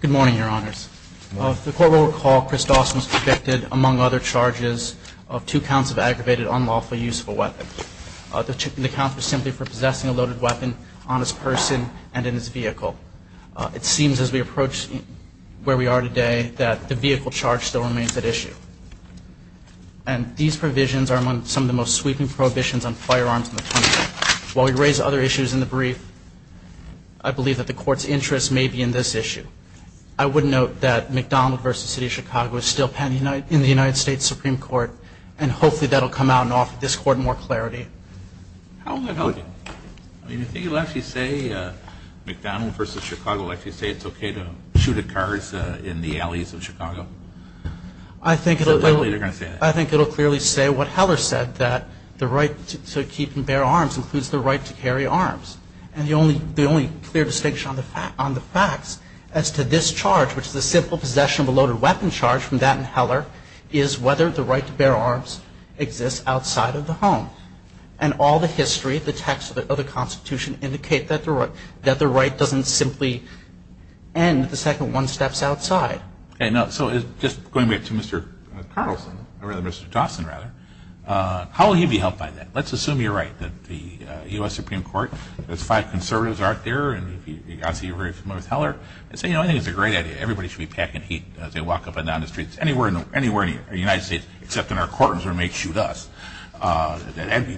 Good morning, Your Honors. The court will recall Chris Dawson was convicted, among other charges, of two counts of aggravated unlawful use of a weapon. The counts were simply for possessing a loaded weapon on his person and in his vehicle. It seems as we approach where we are today that the vehicle charge still remains at issue. And these provisions are among some of the most sweeping prohibitions on firearms in the country. While we raise other issues in the brief, I believe that the court's interest may be in this issue. I would note that McDonald v. City of Chicago is still pending in the United States Supreme Court, and hopefully that will come out in this court in more clarity. I think it will actually say, McDonald v. Chicago, it's okay to shoot at cars in the alleys of Chicago. I think it will clearly say what Heller said, that the right to keep and bear arms includes the right to carry arms. And the only clear distinction on the facts as to this charge, which is the simple possession of a loaded weapon charge from that in Heller, is whether the right to bear arms exists outside of the home. And all the history of the text of the Constitution indicates that the right doesn't simply end the second one steps outside. So just going back to Mr. Carlson, or rather Mr. Dawson rather, how will he be held by that? Let's assume you're right, that the U.S. Supreme Court, those five conservatives aren't there, and obviously you're very familiar with Heller. I think it's a great idea, everybody should be packing heat as they walk up and down the streets anywhere in the United States, except in our courtrooms where they may shoot us.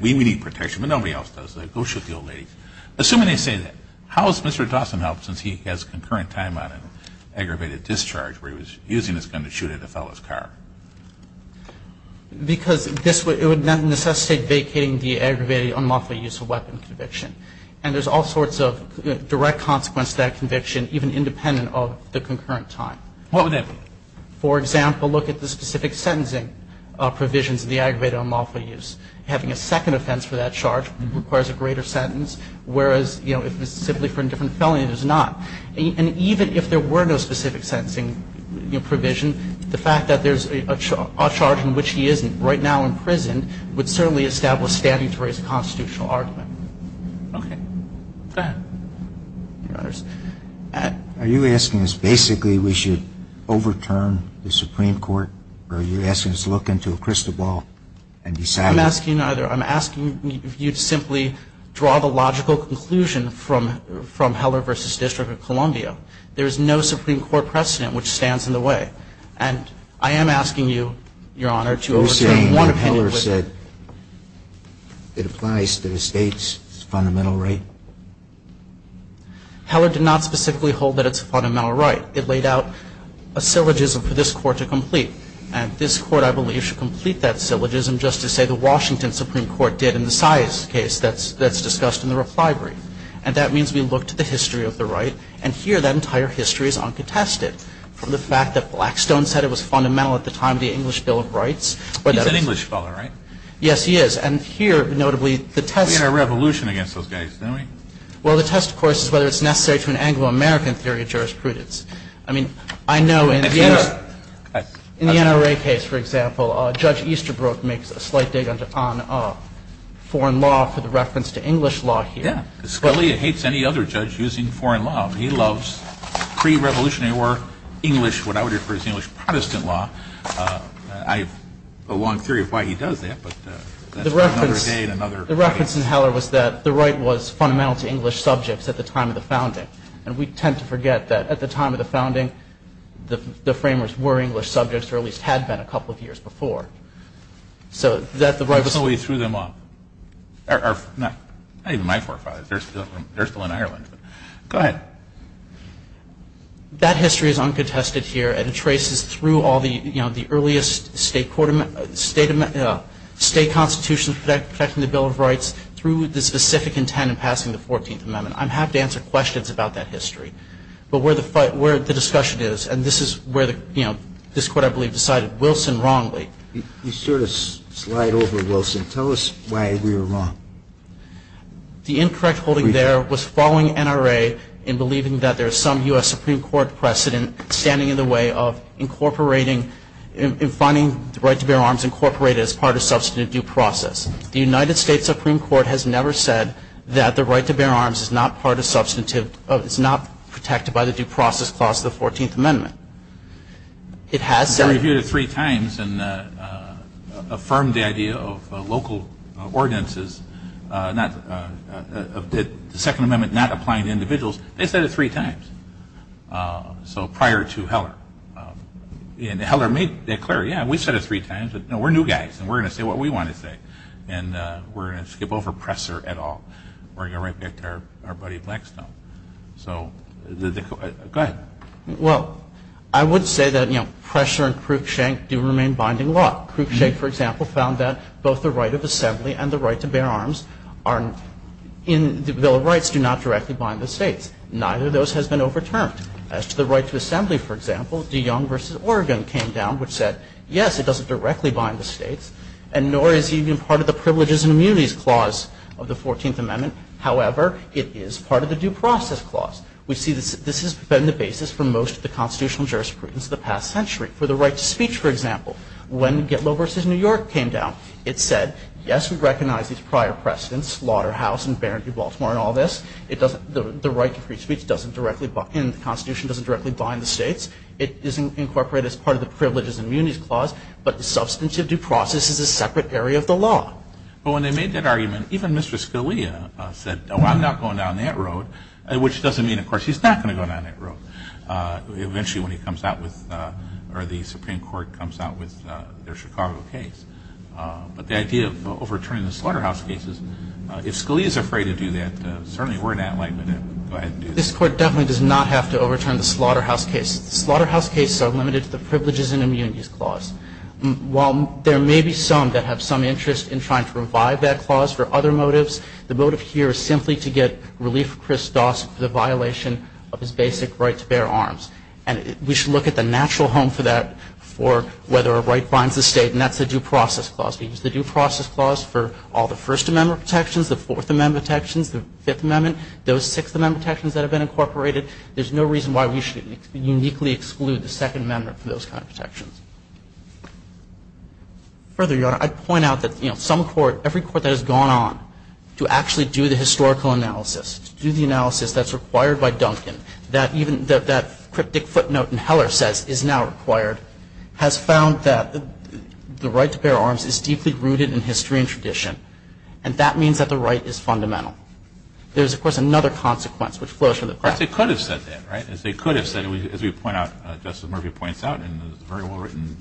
We need protection, but nobody else does, so go shoot the old lady. Assuming they say that, how is Mr. Dawson held since he has concurrent time on an aggravated discharge where he was using this gun to shoot at a fellow's car? Because it would then necessitate vacating the aggravated unlawful use of weapons conviction. And there's all sorts of direct consequence to that conviction, even independent of the concurrent time. What would that be? For example, look at the specific sentencing provisions of the aggravated unlawful use. Having a second offense for that charge requires a greater sentence, whereas if it's simply for a different felony, it is not. And even if there were no specific sentencing provision, the fact that there's a charge in which he isn't right now in prison would certainly establish standing for his constitutional argument. Okay, go ahead. Are you asking us basically we should overturn the Supreme Court, or are you asking us to look into a crystal ball and decide? I'm not asking either. I'm asking if you'd simply draw the logical conclusion from Heller v. District of Columbia. There's no Supreme Court precedent which stands in the way. And I am asking you, Your Honor, to overturn one opinion. Are you saying what Heller said, it applies to the state's fundamental right? Heller did not specifically hold that it's a fundamental right. It laid out a syllogism for this court to complete. And this court, I believe, should complete that syllogism just to say the Washington Supreme Court did in the Sias case that's discussed in the reply brief. And that means we look to the history of the right, and here that entire history is uncontested, from the fact that Blackstone said it was fundamental at the time of the English Bill of Rights. He's an English fellow, right? Yes, he is. And here, notably, the type of— We had a revolution against those guys, didn't we? Well, the test, of course, is whether it's necessary to an Anglo-American theory of jurisprudence. I mean, I know in the NRA case, for example, Judge Easterbrook makes a slight date on foreign law for the reference to English law here. Yes. Scalia hates any other judge using foreign law. He loves pre-Revolutionary War English, what I would refer to as English Protestant law. I have a long theory of why he does that, but that's another date, another— The reference in Heller was that the right was fundamental to English subjects at the time of the founding. Right. And we tend to forget that at the time of the founding, the framers were English subjects, or at least had been a couple of years before. So that the right was— But somebody threw them off. Not even my forefathers. They're still in Ireland. Go ahead. That history is uncontested here, and it traces through all the earliest state constitution protecting the Bill of Rights, through the specific intent of passing the 14th Amendment. I'd have to answer questions about that history. But where the discussion is, and this is where the court, I believe, decided Wilson wrongly. You steered us right over Wilson. Tell us why we were wrong. The incorrect holding there was following NRA in believing that there is some U.S. Supreme Court precedent standing in the way of incorporating—in finding the right to bear arms incorporated as part of substantive due process. The United States Supreme Court has never said that the right to bear arms is not part of substantive— is not protected by the due process clause of the 14th Amendment. It has done— We reviewed it three times and affirmed the idea of local ordinances, that the Second Amendment not applying to individuals. They said it three times. So prior to Heller. And Heller made it clear, yeah, we said it three times. We're new guys and we're going to say what we want to say. And we're going to skip over Presser at all. We're going to go right back to our buddy Blackstone. So, go ahead. Well, I would say that Presser and Cruikshank do remain binding law. Cruikshank, for example, found that both the right of assembly and the right to bear arms are in the Bill of Rights, do not directly bind the states. Neither of those has been overturned. As to the right to assembly, for example, DeYoung v. Oregon came down, which said, yes, it doesn't directly bind the states, and nor is it even part of the privileges and immunities clause of the 14th Amendment. However, it is part of the due process clause. We see that this has been the basis for most of the constitutional jurisprudence of the past century. For the right to speech, for example, when Gitlo v. New York came down, it said, yes, we recognize these prior precedents, Lauder House and Barron v. Baltimore and all this. The right to free speech doesn't directly— The Constitution doesn't directly bind the states. It isn't incorporated as part of the privileges and immunities clause, but the substantive due process is a separate area of the law. Well, when they made that argument, even Mr. Scalia said, oh, I'm not going down that road, which doesn't mean, of course, he's not going to go down that road eventually when he comes out with— or the Supreme Court comes out with the Chicago case. But the idea of overturning the Slaughterhouse case is, if Scalia's afraid to do that, certainly we're not likely to go ahead and do that. This Court definitely does not have to overturn the Slaughterhouse case. Slaughterhouse cases are limited to the privileges and immunities clause. While there may be some that have some interest in trying to revive that clause for other motives, the motive here is simply to get relief for Chris Doss for the violation of his basic right to bear arms. And we should look at the natural home for that for whether a right binds the state, and that's the due process clause. We use the due process clause for all the First Amendment protections, the Fourth Amendment protections, the Fifth Amendment, those Sixth Amendment protections that have been incorporated. There's no reason why we should uniquely exclude the Second Amendment for those kinds of protections. Further, Your Honor, I'd point out that, you know, some court, every court that has gone on to actually do the historical analysis, do the analysis that's required by Duncan, that even that cryptic footnote in Heller says is now required, has found that the right to bear arms is deeply rooted in history and tradition. And that means that the right is fundamental. There's, of course, another consequence that flows from that. But they could have said that, right? If they could have said it, as we point out, as Justice Murphy points out in the very well-written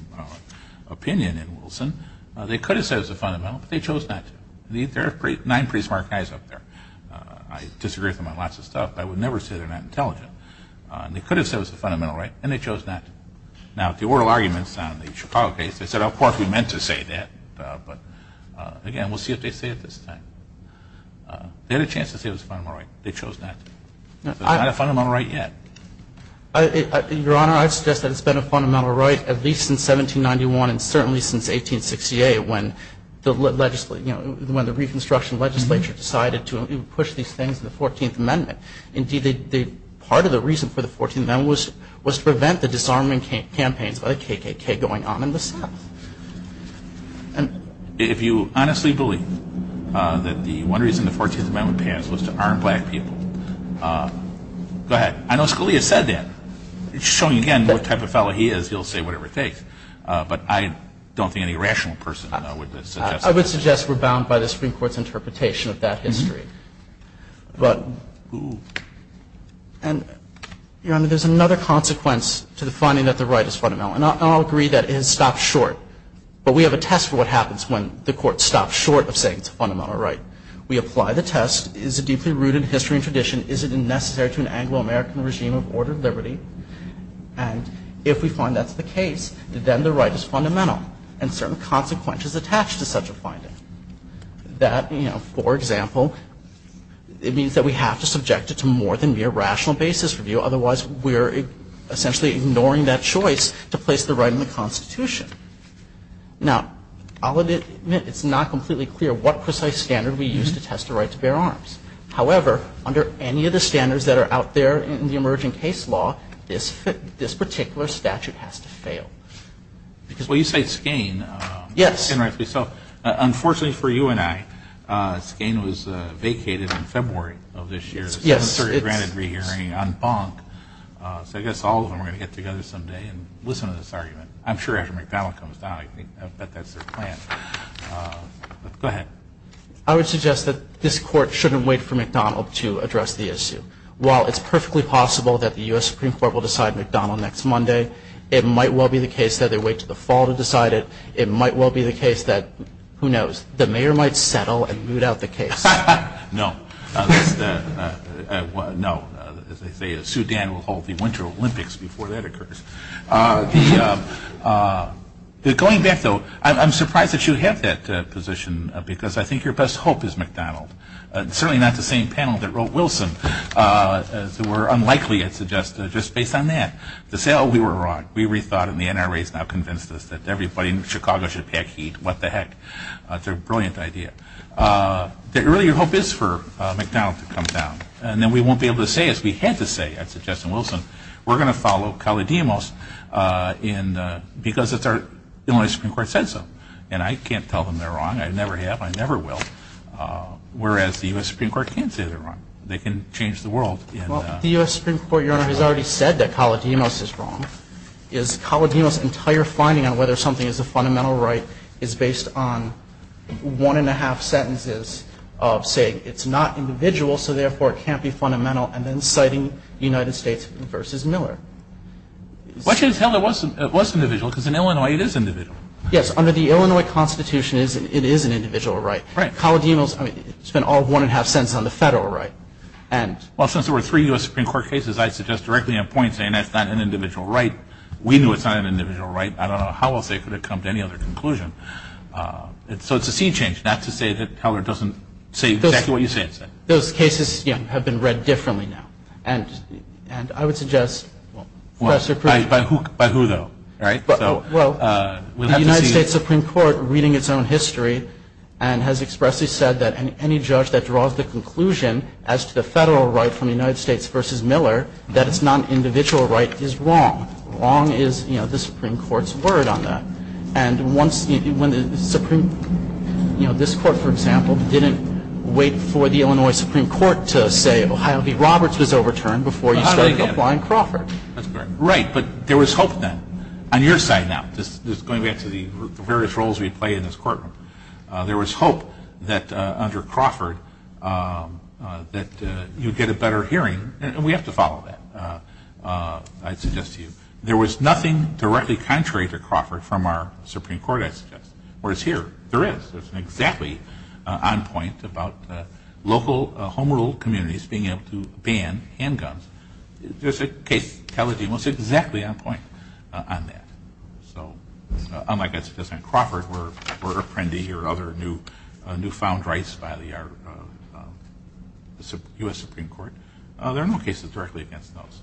opinion in Wilson, they could have said it was a fundamental right, but they chose not to. There are nine pretty smart guys up there. I disagree with them on lots of stuff, but I would never say they're not intelligent. They could have said it was a fundamental right, and they chose not to. Now, the oral arguments on the Chicago case, they said, of course, we meant to say that, but, again, we'll see what they say at this time. They had a chance to say it was a fundamental right. They chose not to. It's not a fundamental right yet. Your Honor, I would suggest that it's been a fundamental right at least since 1791 and certainly since 1868 when the Reconstruction legislature decided to push these things in the 14th Amendment. Indeed, part of the reason for the 14th Amendment was to prevent the disarming campaigns of KKK going on in the South. If you honestly believe that the one reason the 14th Amendment passed was to arm black people, go ahead. I know Scalia said that. It's showing, again, what type of fellow he is. He'll say whatever he thinks, but I don't think he's a rational person. I would suggest we're bound by the Supreme Court's interpretation of that history. Your Honor, there's another consequence to the finding that the right is fundamental, and I'll agree that it has stopped short, but we have a test for what happens when the court stops short of saying it's a fundamental right. We apply the test. Is it deeply rooted in history and tradition? Is it necessary to an Anglo-American regime of order and liberty? If we find that's the case, then the right is fundamental, and certain consequences attach to such a finding. That, for example, it means that we have to subject it to more than mere rational basis review, otherwise we're essentially ignoring that choice to place the right in the Constitution. Now, it's not completely clear what precise standard we use to test the right to bear arms. However, under any of the standards that are out there in the emerging case law, this particular statute has to fail. Well, you say Skane. Yes. Unfortunately for you and I, Skane was vacated in February of this year. Yes, sir. He was granted re-hearing on Bonk. So I guess all of them are going to get together someday and listen to this argument. I'm sure after McDonnell comes down, I bet that's their plan. Go ahead. I would suggest that this court shouldn't wait for McDonnell to address the issue. While it's perfectly possible that the U.S. Supreme Court will decide McDonnell next Monday, it might well be the case that they wait until the fall to decide it. It might well be the case that, who knows, the mayor might settle and root out the case. No. No, as they say, a Sudan will hold the Winter Olympics before that occurs. Going back, though, I'm surprised that you have that position because I think your best hope is McDonnell. Certainly not the same panel that wrote Wilson. We're unlikely to suggest that just based on that. To say, oh, we were wrong. We rethought it and the NRA has now convinced us that everybody in Chicago should take heat. What the heck. It's a brilliant idea. The earlier hope is for McDonnell to come down. And then we won't be able to say as we had to say, I'd suggest to Wilson, we're going to follow Caledemos because it's our U.S. Supreme Court said so. And I can't tell them they're wrong. I never have. I never will. Whereas the U.S. Supreme Court can say they're wrong. They can change the world. The U.S. Supreme Court, Your Honor, has already said that Caledemos is wrong. Is Caledemos' entire finding on whether something is a fundamental right is based on one and a half sentences of saying it's not individual, so therefore it can't be fundamental, and then citing the United States versus Miller. The question is how that was individual because in Illinois it is individual. Yes, under the Illinois Constitution it is an individual right. Right. Caledemos, I mean, it's been all one and a half sentences on the federal right. Well, since there were three U.S. Supreme Court cases, I'd suggest directly on point saying that's not an individual right. We knew it's not an individual right. I don't know how else they could have come to any other conclusion. So it's a sea change. That's to say that Teller doesn't say exactly what you say. Those cases have been read differently now. And I would suggest, Professor, By who though, right? Well, the United States Supreme Court, reading its own history, has expressly said that any judge that draws the conclusion as to the federal right from the United States versus Miller that it's not an individual right is wrong. Wrong is the Supreme Court's word on that. And this Court, for example, didn't wait for the Illinois Supreme Court to say Ohio v. Roberts was overturned before you started applying Crawford. Right, but there was hope then. On your side now, just going back to the various roles we play in this courtroom, there was hope that under Crawford that you'd get a better hearing, and we have to follow that, I'd suggest to you. There was nothing directly contrary to Crawford from our Supreme Court aspect. Whereas here, there is. It's exactly on point about local home rule communities being able to ban handguns. There's a case in Caledonia that's exactly on point on that. Unlike, I guess, in Crawford where Apprendi or other new-found rights by the U.S. Supreme Court, there are no cases directly against those.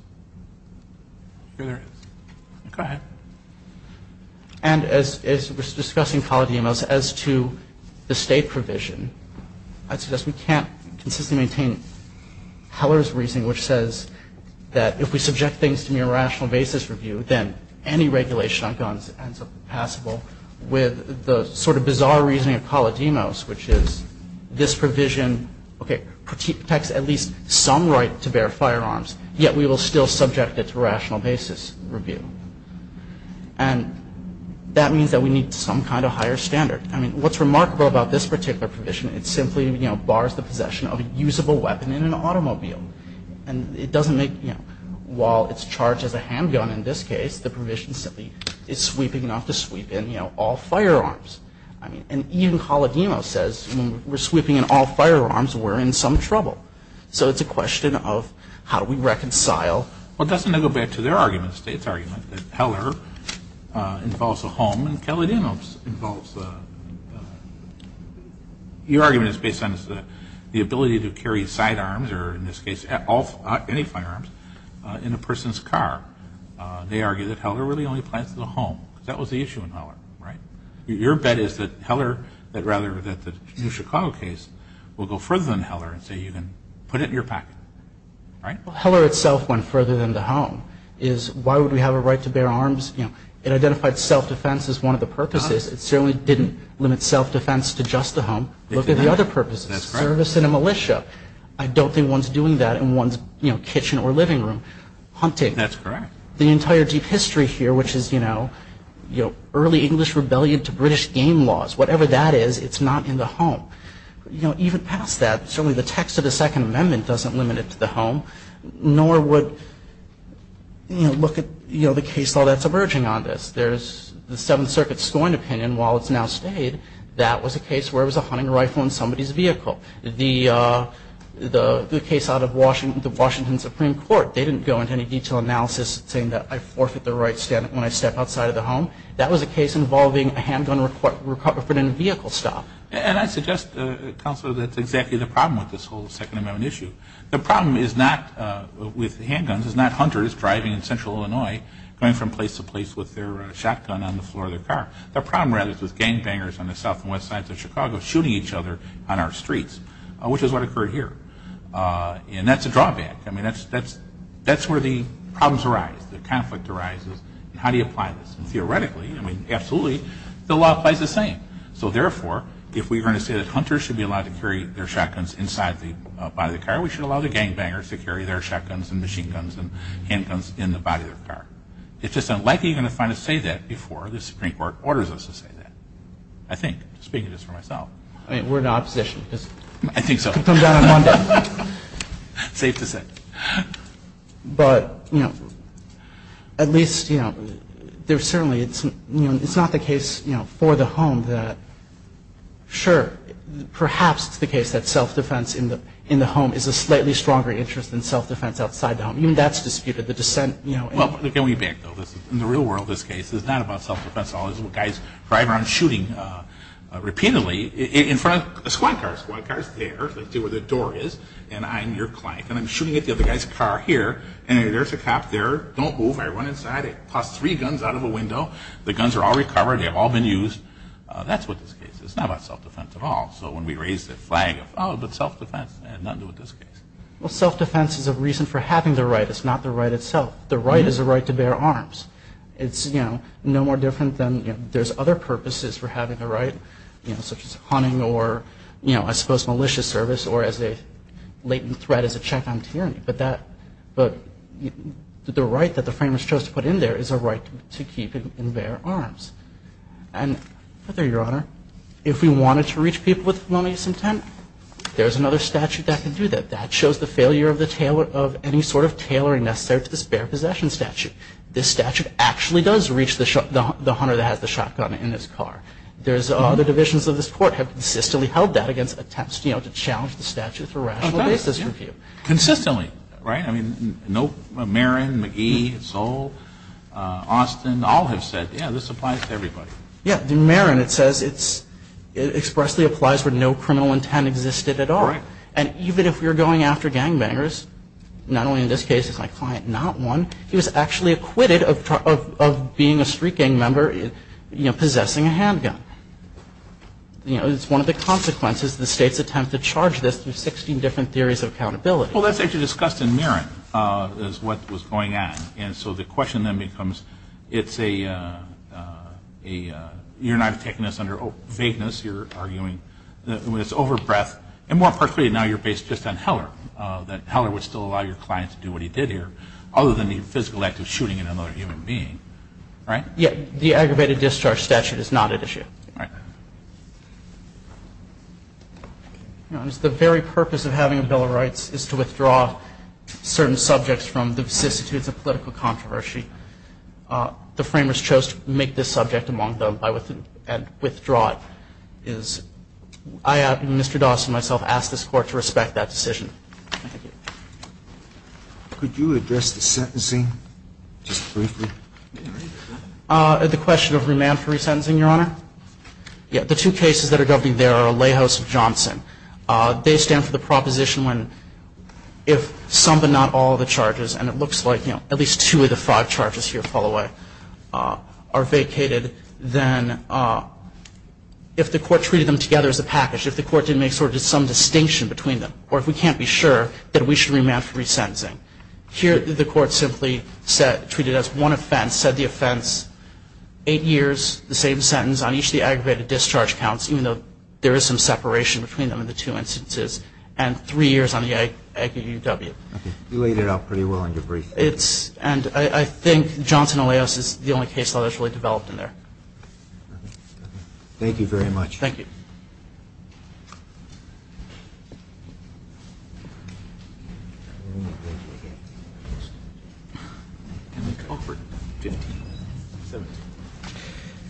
Go ahead. And as we're discussing Caledonia as to the state provision, I'd suggest we can't consistently maintain Heller's reasoning, which says that if we subject things to mere rational basis review, then any regulation on guns ends up passable, with the sort of bizarre reasoning of Paladimos, which is this provision protects at least some right to bear firearms, yet we will still subject it to rational basis review. And that means that we need some kind of higher standard. I mean, what's remarkable about this particular provision, it simply bars the possession of a usable weapon in an automobile. And it doesn't make, while it's charged as a handgun in this case, the provision simply is sweeping enough to sweep in all firearms. And even Paladimos says, we're sweeping in all firearms, we're in some trouble. So it's a question of how do we reconcile. Well, that's going to go back to their argument, the state's argument, that Heller involves a home and Paladimos involves a... Your argument is based on the ability to carry sidearms, or in this case, any firearms, in a person's car. They argue that Heller really only plans for the home. That was the issue with Heller, right? Your bet is that Heller, rather than the Chicago case, will go further than Heller and say you can put it in your pocket, right? Well, Heller itself went further than the home. Why would we have a right to bear arms? It identified self-defense as one of the purposes. It certainly didn't limit self-defense to just the home. Look at the other purposes. That's correct. Terrorists in a militia. I don't think one's doing that in one's kitchen or living room. Hunting. That's correct. The entire deep history here, which is early English rebellion to British game laws, whatever that is, it's not in the home. Even past that, certainly the text of the Second Amendment doesn't limit it to the home, nor would look at the case file that's emerging on this. There's the Seventh Circuit's scoring opinion, while it's now stayed, that was a case where it was a hunting rifle in somebody's vehicle. The case out of the Washington Supreme Court, they didn't go into any detail analysis saying that I forfeit the right when I step outside of the home. That was a case involving a handgun requirement in a vehicle stop. I suggest, Counselor, that's exactly the problem with this whole Second Amendment issue. The problem with handguns is not hunters driving in central Illinois going from place to place with their shotgun on the floor of their car. The problem, rather, is with gangbangers on the south and west sides of Chicago shooting each other on our streets, which is what occurred here. That's a drawback. That's where the problems arise, the conflict arises. How do you apply this? Theoretically, absolutely, the law applies the same. So, therefore, if we are going to say that hunters should be allowed to carry their shotguns inside the body of the car, we should allow the gangbangers to carry their shotguns and machine guns and handguns in the body of their car. It's just unlikely you're going to find us say that before the Supreme Court orders us to say that. I think, speaking for myself. We're in opposition. I think so. Safe to say. But, you know, at least, you know, there's certainly, you know, it's not the case, you know, for the home that, sure, perhaps it's the case that self-defense in the home is a slightly stronger interest than self-defense outside the home. Even that's disputed. The dissent, you know. Well, can we backfill this? In the real world, this case is not about self-defense at all. There's little guys driving around shooting repeatedly in front of a squad car. They see where the door is, and I'm your client, and I'm shooting at the other guy's car here, and there's a cop there. Don't move. I run inside. I toss three guns out of a window. The guns are all recovered. They've all been used. That's what this case is. It's not about self-defense at all. So when we raise the flag, oh, but self-defense, I had nothing to do with this case. Well, self-defense is a reason for having the right. It's not the right itself. The right is a right to bear arms. It's, you know, no more different than, you know, there's other purposes for having the right, you know, such as hunting or, you know, I suppose, malicious service or as a latent threat as a shotgun hearing. But the right that the framers chose to put in there is a right to keep in their arms. And, but there, Your Honor, if we wanted to reach people with malicious intent, there's another statute that can do that. That shows the failure of any sort of tailoring necessary to the spare possession statute. This statute actually does reach the hunter that has the shotgun in his car. There's other divisions of this court have consistently held that against attempts, you know, to challenge the statute for rational basis review. Consistently. Right? I mean, no, Marin, McGee, Sowell, Austin, all have said, yeah, this applies to everybody. Yeah. In Marin it says it's, it expressly applies for no criminal intent existed at all. Right. And even if we were going after gangbangers, not only in this case is my client not one, he was actually acquitted of being a street gang member, you know, possessing a handgun. You know, it's one of the consequences of the state's attempt to charge this with 16 different theories of accountability. Well, that's what you discussed in Marin, is what was going on. And so the question then becomes, it's a, you're not taking this under vagueness. You're arguing that it was over breadth, and more particularly now you're based just on Heller, that Heller would still allow your client to do what he did here, other than the physical act of shooting another human being. Right? Yeah. The aggravated discharge statute is not at issue. Okay. The very purpose of having a Bill of Rights is to withdraw certain subjects from the political controversy. The framers chose to make this subject among them and withdraw it. I, Mr. Dawson, myself, ask this Court to respect that decision. Could you address the sentencing, just briefly? The question of remand for resentencing, Your Honor? Yeah. The two cases that are going to be there are Lejos and Johnson. They stand for the proposition when if some but not all of the charges, and it looks like at least two of the five charges here fall away, are vacated, then if the Court treated them together as a package, if the Court didn't make some sort of distinction between them, or if we can't be sure, then we should remand for resentencing. Here, the Court simply treated it as one offense, said the offense, eight years, the same sentence on each of the aggravated discharge counts, even though there is some separation between them in the two instances, and three years on the Aggie UW. Okay. You laid it out pretty well in your brief. I think Johnson and Lejos is the only case I've actually developed in there. Thank you very much. Thank you.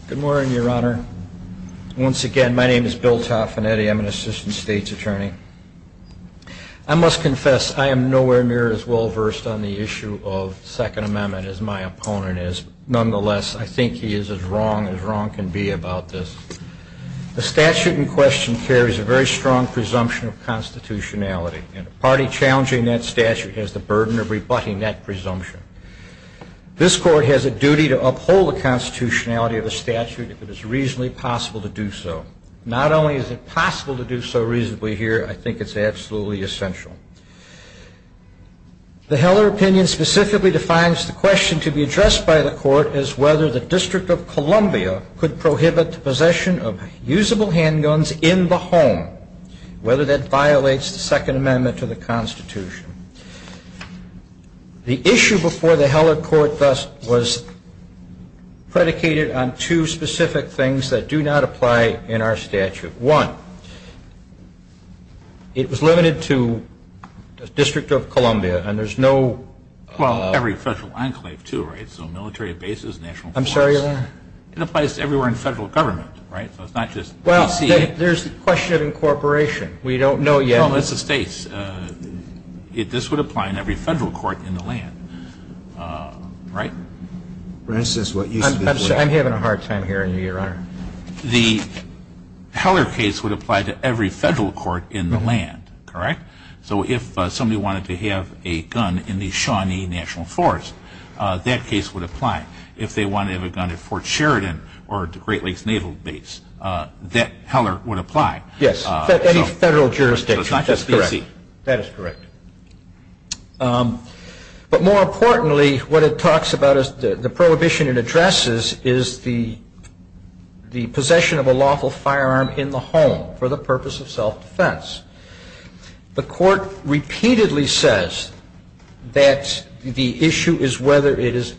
Good morning, Your Honor. Once again, my name is Bill Taffanetti. I'm an assistant state's attorney. I must confess I am nowhere near as well versed on the issue of the Second Amendment as my opponent is. Nonetheless, I think he is as wrong as wrong can be about this. The statute in question carries a very strong presumption of constitutionality, and the party challenging that statute has the burden of rebutting that presumption. This Court has a duty to uphold the constitutionality of the statute if it is reasonably possible to do so. Not only is it possible to do so reasonably here, I think it's absolutely essential. The Heller opinion specifically defines the question to be addressed by the Court as whether the District of Columbia could prohibit the possession of usable handguns in the home, whether that violates the Second Amendment to the Constitution. The issue before the Heller Court thus was predicated on two specific things that do not apply in our statute. One, it was limited to the District of Columbia, and there's no... Well, every federal enclave too, right? So military bases, national parks. I'm sorry, Your Honor? It applies to everywhere in federal government, right? So it's not just... Well, there's the question of incorporation. We don't know yet. Well, it's a space. This would apply in every federal court in the land, right? I'm having a hard time hearing you, Your Honor. The Heller case would apply to every federal court in the land, correct? So if somebody wanted to have a gun in the Shawnee National Forest, that case would apply. If they wanted a gun at Fort Sheridan or at the Great Lakes Naval Base, that Heller would apply. Yes, any federal jurisdiction. That is correct. But more importantly, what it talks about is the prohibition it addresses is the possession of a lawful firearm in the home for the purpose of self-defense. The court repeatedly says that the issue is whether it is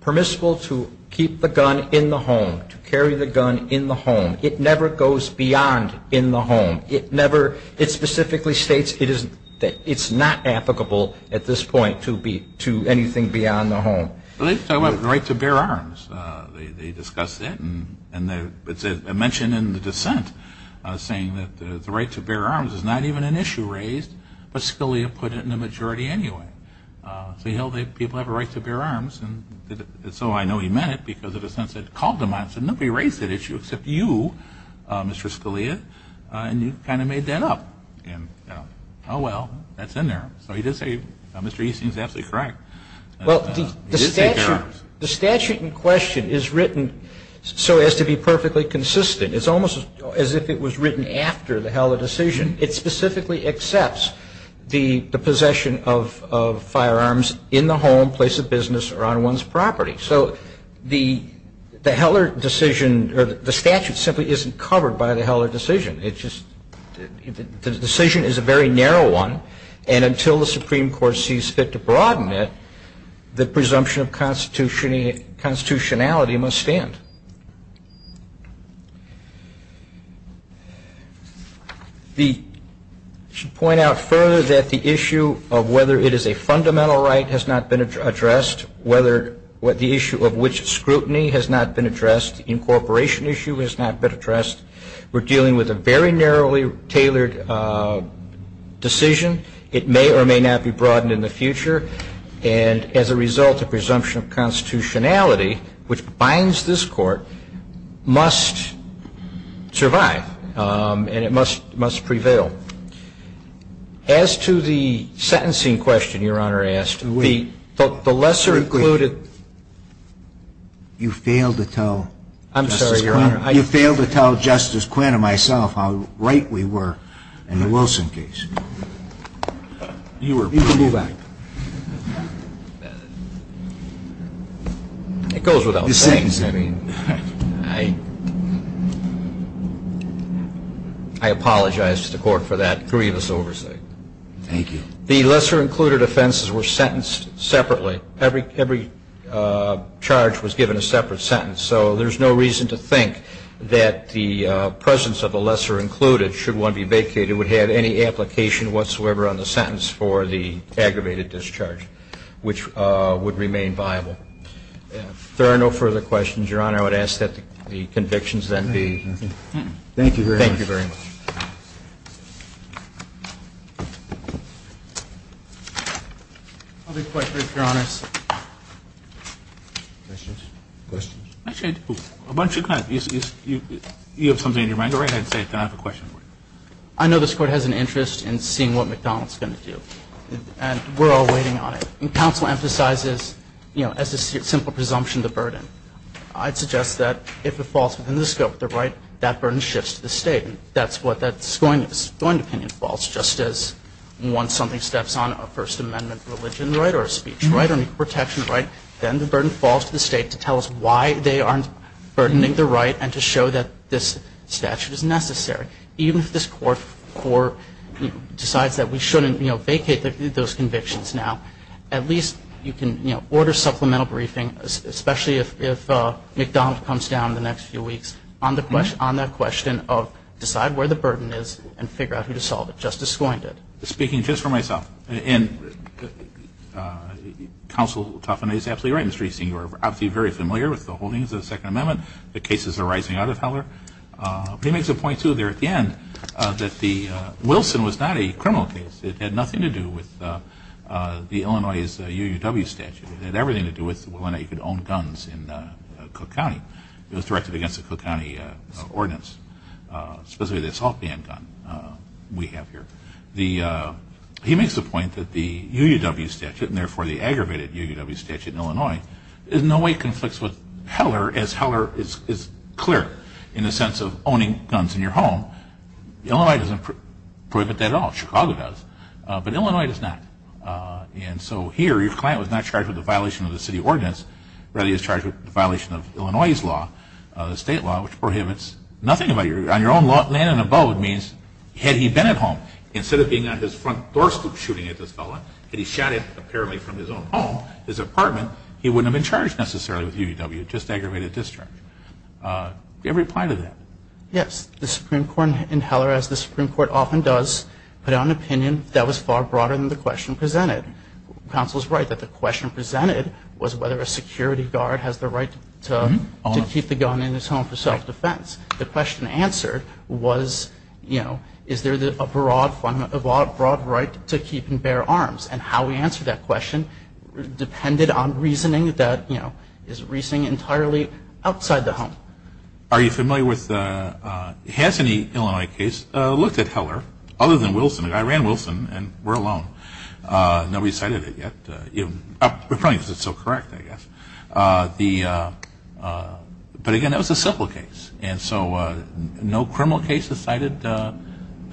permissible to keep the gun in the home, to carry the gun in the home. It never goes beyond in the home. It specifically states that it's not applicable at this point to anything beyond the home. Let's talk about the right to bear arms. They discussed it, and it's mentioned in the dissent, saying that the right to bear arms is not even an issue raised, but Scalia put it in the majority anyway. So you know that people have a right to bear arms, and so I know he meant it because of the sense that it called them on it. So nobody raised that issue except you, Mr. Scalia, and you kind of made that up. Oh well, that's in there. So he did say Mr. Easton is absolutely correct. The statute in question is written so as to be perfectly consistent. It's almost as if it was written after the Heller decision. It specifically accepts the possession of firearms in the home, place of business, or on one's property. So the Heller decision, or the statute simply isn't covered by the Heller decision. The decision is a very narrow one, and until the Supreme Court sees fit to broaden it, the presumption of constitutionality must stand. I should point out further that the issue of whether it is a fundamental right has not been addressed, the issue of which scrutiny has not been addressed, incorporation issue has not been addressed. We're dealing with a very narrowly tailored decision. It may or may not be broadened in the future, and as a result, the presumption of constitutionality, which binds this Court, must survive, and it must prevail. As to the sentencing question Your Honor asked, the lesser included... You failed to tell Justice Quinn and myself how right we were in the Wilson case. You were proven right. It goes without saying. I apologize to the Court for that grievous oversight. Thank you. The lesser included offenses were sentenced separately. Every charge was given a separate sentence, so there's no reason to think that the presence of the lesser included, should one be vacated, would have any application whatsoever on the sentence for the aggravated discharge, which would remain viable. If there are no further questions, Your Honor, I would ask that the convictions then be... Thank you very much. Thank you very much. Other questions, Your Honor? Questions? Actually, why don't you kind of... You have something in your mind? Go right ahead and say it. I have a question for you. I know this Court has an interest in seeing what McDonald's is going to do, and we're all waiting on it. And counsel emphasizes, you know, as a simple presumption, the burden. I'd suggest that if it falls within the scope of the right, that burden shifts to the state. And that's what that disjoint opinion falls, just as once something steps on a First Amendment religion, right, or a speech, right, or a protection, right, then the burden falls to the state to tell us why they aren't burdening the right and to show that this statute is necessary. Even if this Court decides that we shouldn't, you know, vacate those convictions now, at least you can, you know, order supplemental briefing, especially if McDonald's comes down in the next few weeks, on the question of decide where the burden is and figure out how to solve it. Justice Floyd did. Speaking just for myself, and counsel Tuffman is absolutely right, Mr. Easton. You're obviously very familiar with the holdings of the Second Amendment. The cases are rising out of power. He makes a point, too, there at the end, that the Wilson was not a criminal case. It had nothing to do with the Illinois' UUW statute. It had everything to do with whether or not you could own guns in Cook County. It was directed against the Cook County ordinance, specifically the assault dam gun we have here. He makes the point that the UUW statute, and therefore the aggravated UUW statute in Illinois, in no way conflicts with Heller as Heller is clear in the sense of owning guns in your home. Illinois doesn't prohibit that at all. Chicago does. But Illinois does not. And so here your client was not charged with a violation of the city ordinance. Rather, he was charged with a violation of Illinois' law, the state law, which prohibits nothing on your own land and abode means had he been at home, instead of being on his front doorstep shooting at this fellow, had he shot him apparently from his own home, his apartment, he wouldn't have been charged necessarily with UUW, just aggravated discharge. Do you have a reply to that? Yes. The Supreme Court in Heller, as the Supreme Court often does, put out an opinion that was far broader than the question presented. Counsel is right that the question presented was whether a security guard has the right to keep the gun in his home for self-defense. The question answered was, you know, is there a broad right to keep and bear arms? And how we answered that question depended on reasoning that, you know, is reasoning entirely outside the home. Are you familiar with the Hasseny, Illinois case? I looked at Heller, other than Wilson, and I ran Wilson, and we're alone. Nobody cited it yet. We're probably just so correct, I guess. But, again, that was a simple case. And so no criminal case has cited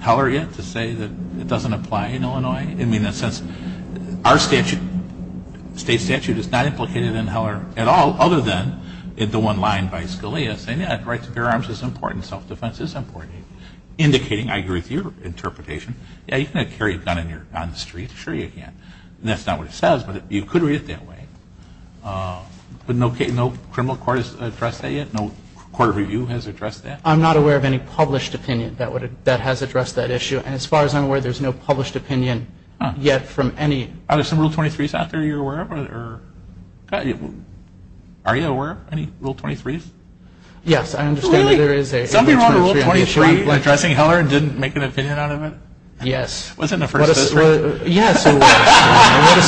Heller yet to say that it doesn't apply in Illinois. I mean, in a sense, our statute, state statute, is not implicated in Heller at all, other than the one line by Scalia saying, yeah, the right to bear arms is important, self-defense is important. Indicating, I agree with your interpretation, yeah, you can have carry a gun on the street. Sure you can. And that's not what it says, but you could read it that way. But no criminal court has addressed that yet? No court of review has addressed that? I'm not aware of any published opinion that has addressed that issue. And as far as I'm aware, there's no published opinion yet from any... Are there some Rule 23s out there you're aware of? Are you aware of any Rule 23s? Yes. Really? Somebody wrote a Rule 23 addressing Heller and didn't make an opinion out of it? Yes. Was it in the first instance? Yes. What a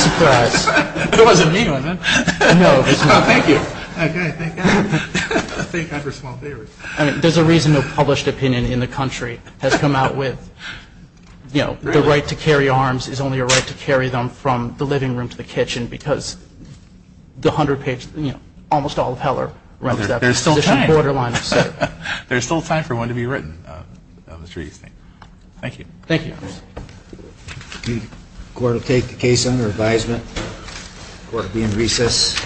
surprise. But it wasn't me, was it? No. Oh, thank you. I didn't think that. I think I have a small theory. There's a reason a published opinion in the country has come out with, you know, the right to carry arms is only a right to carry them from the living room to the kitchen, because the 100-page, you know, almost all of Heller... There's still time for one to be written, I'm sure you've seen. Thank you. Thank you. The court will take the case under advisement. The court will be in recess.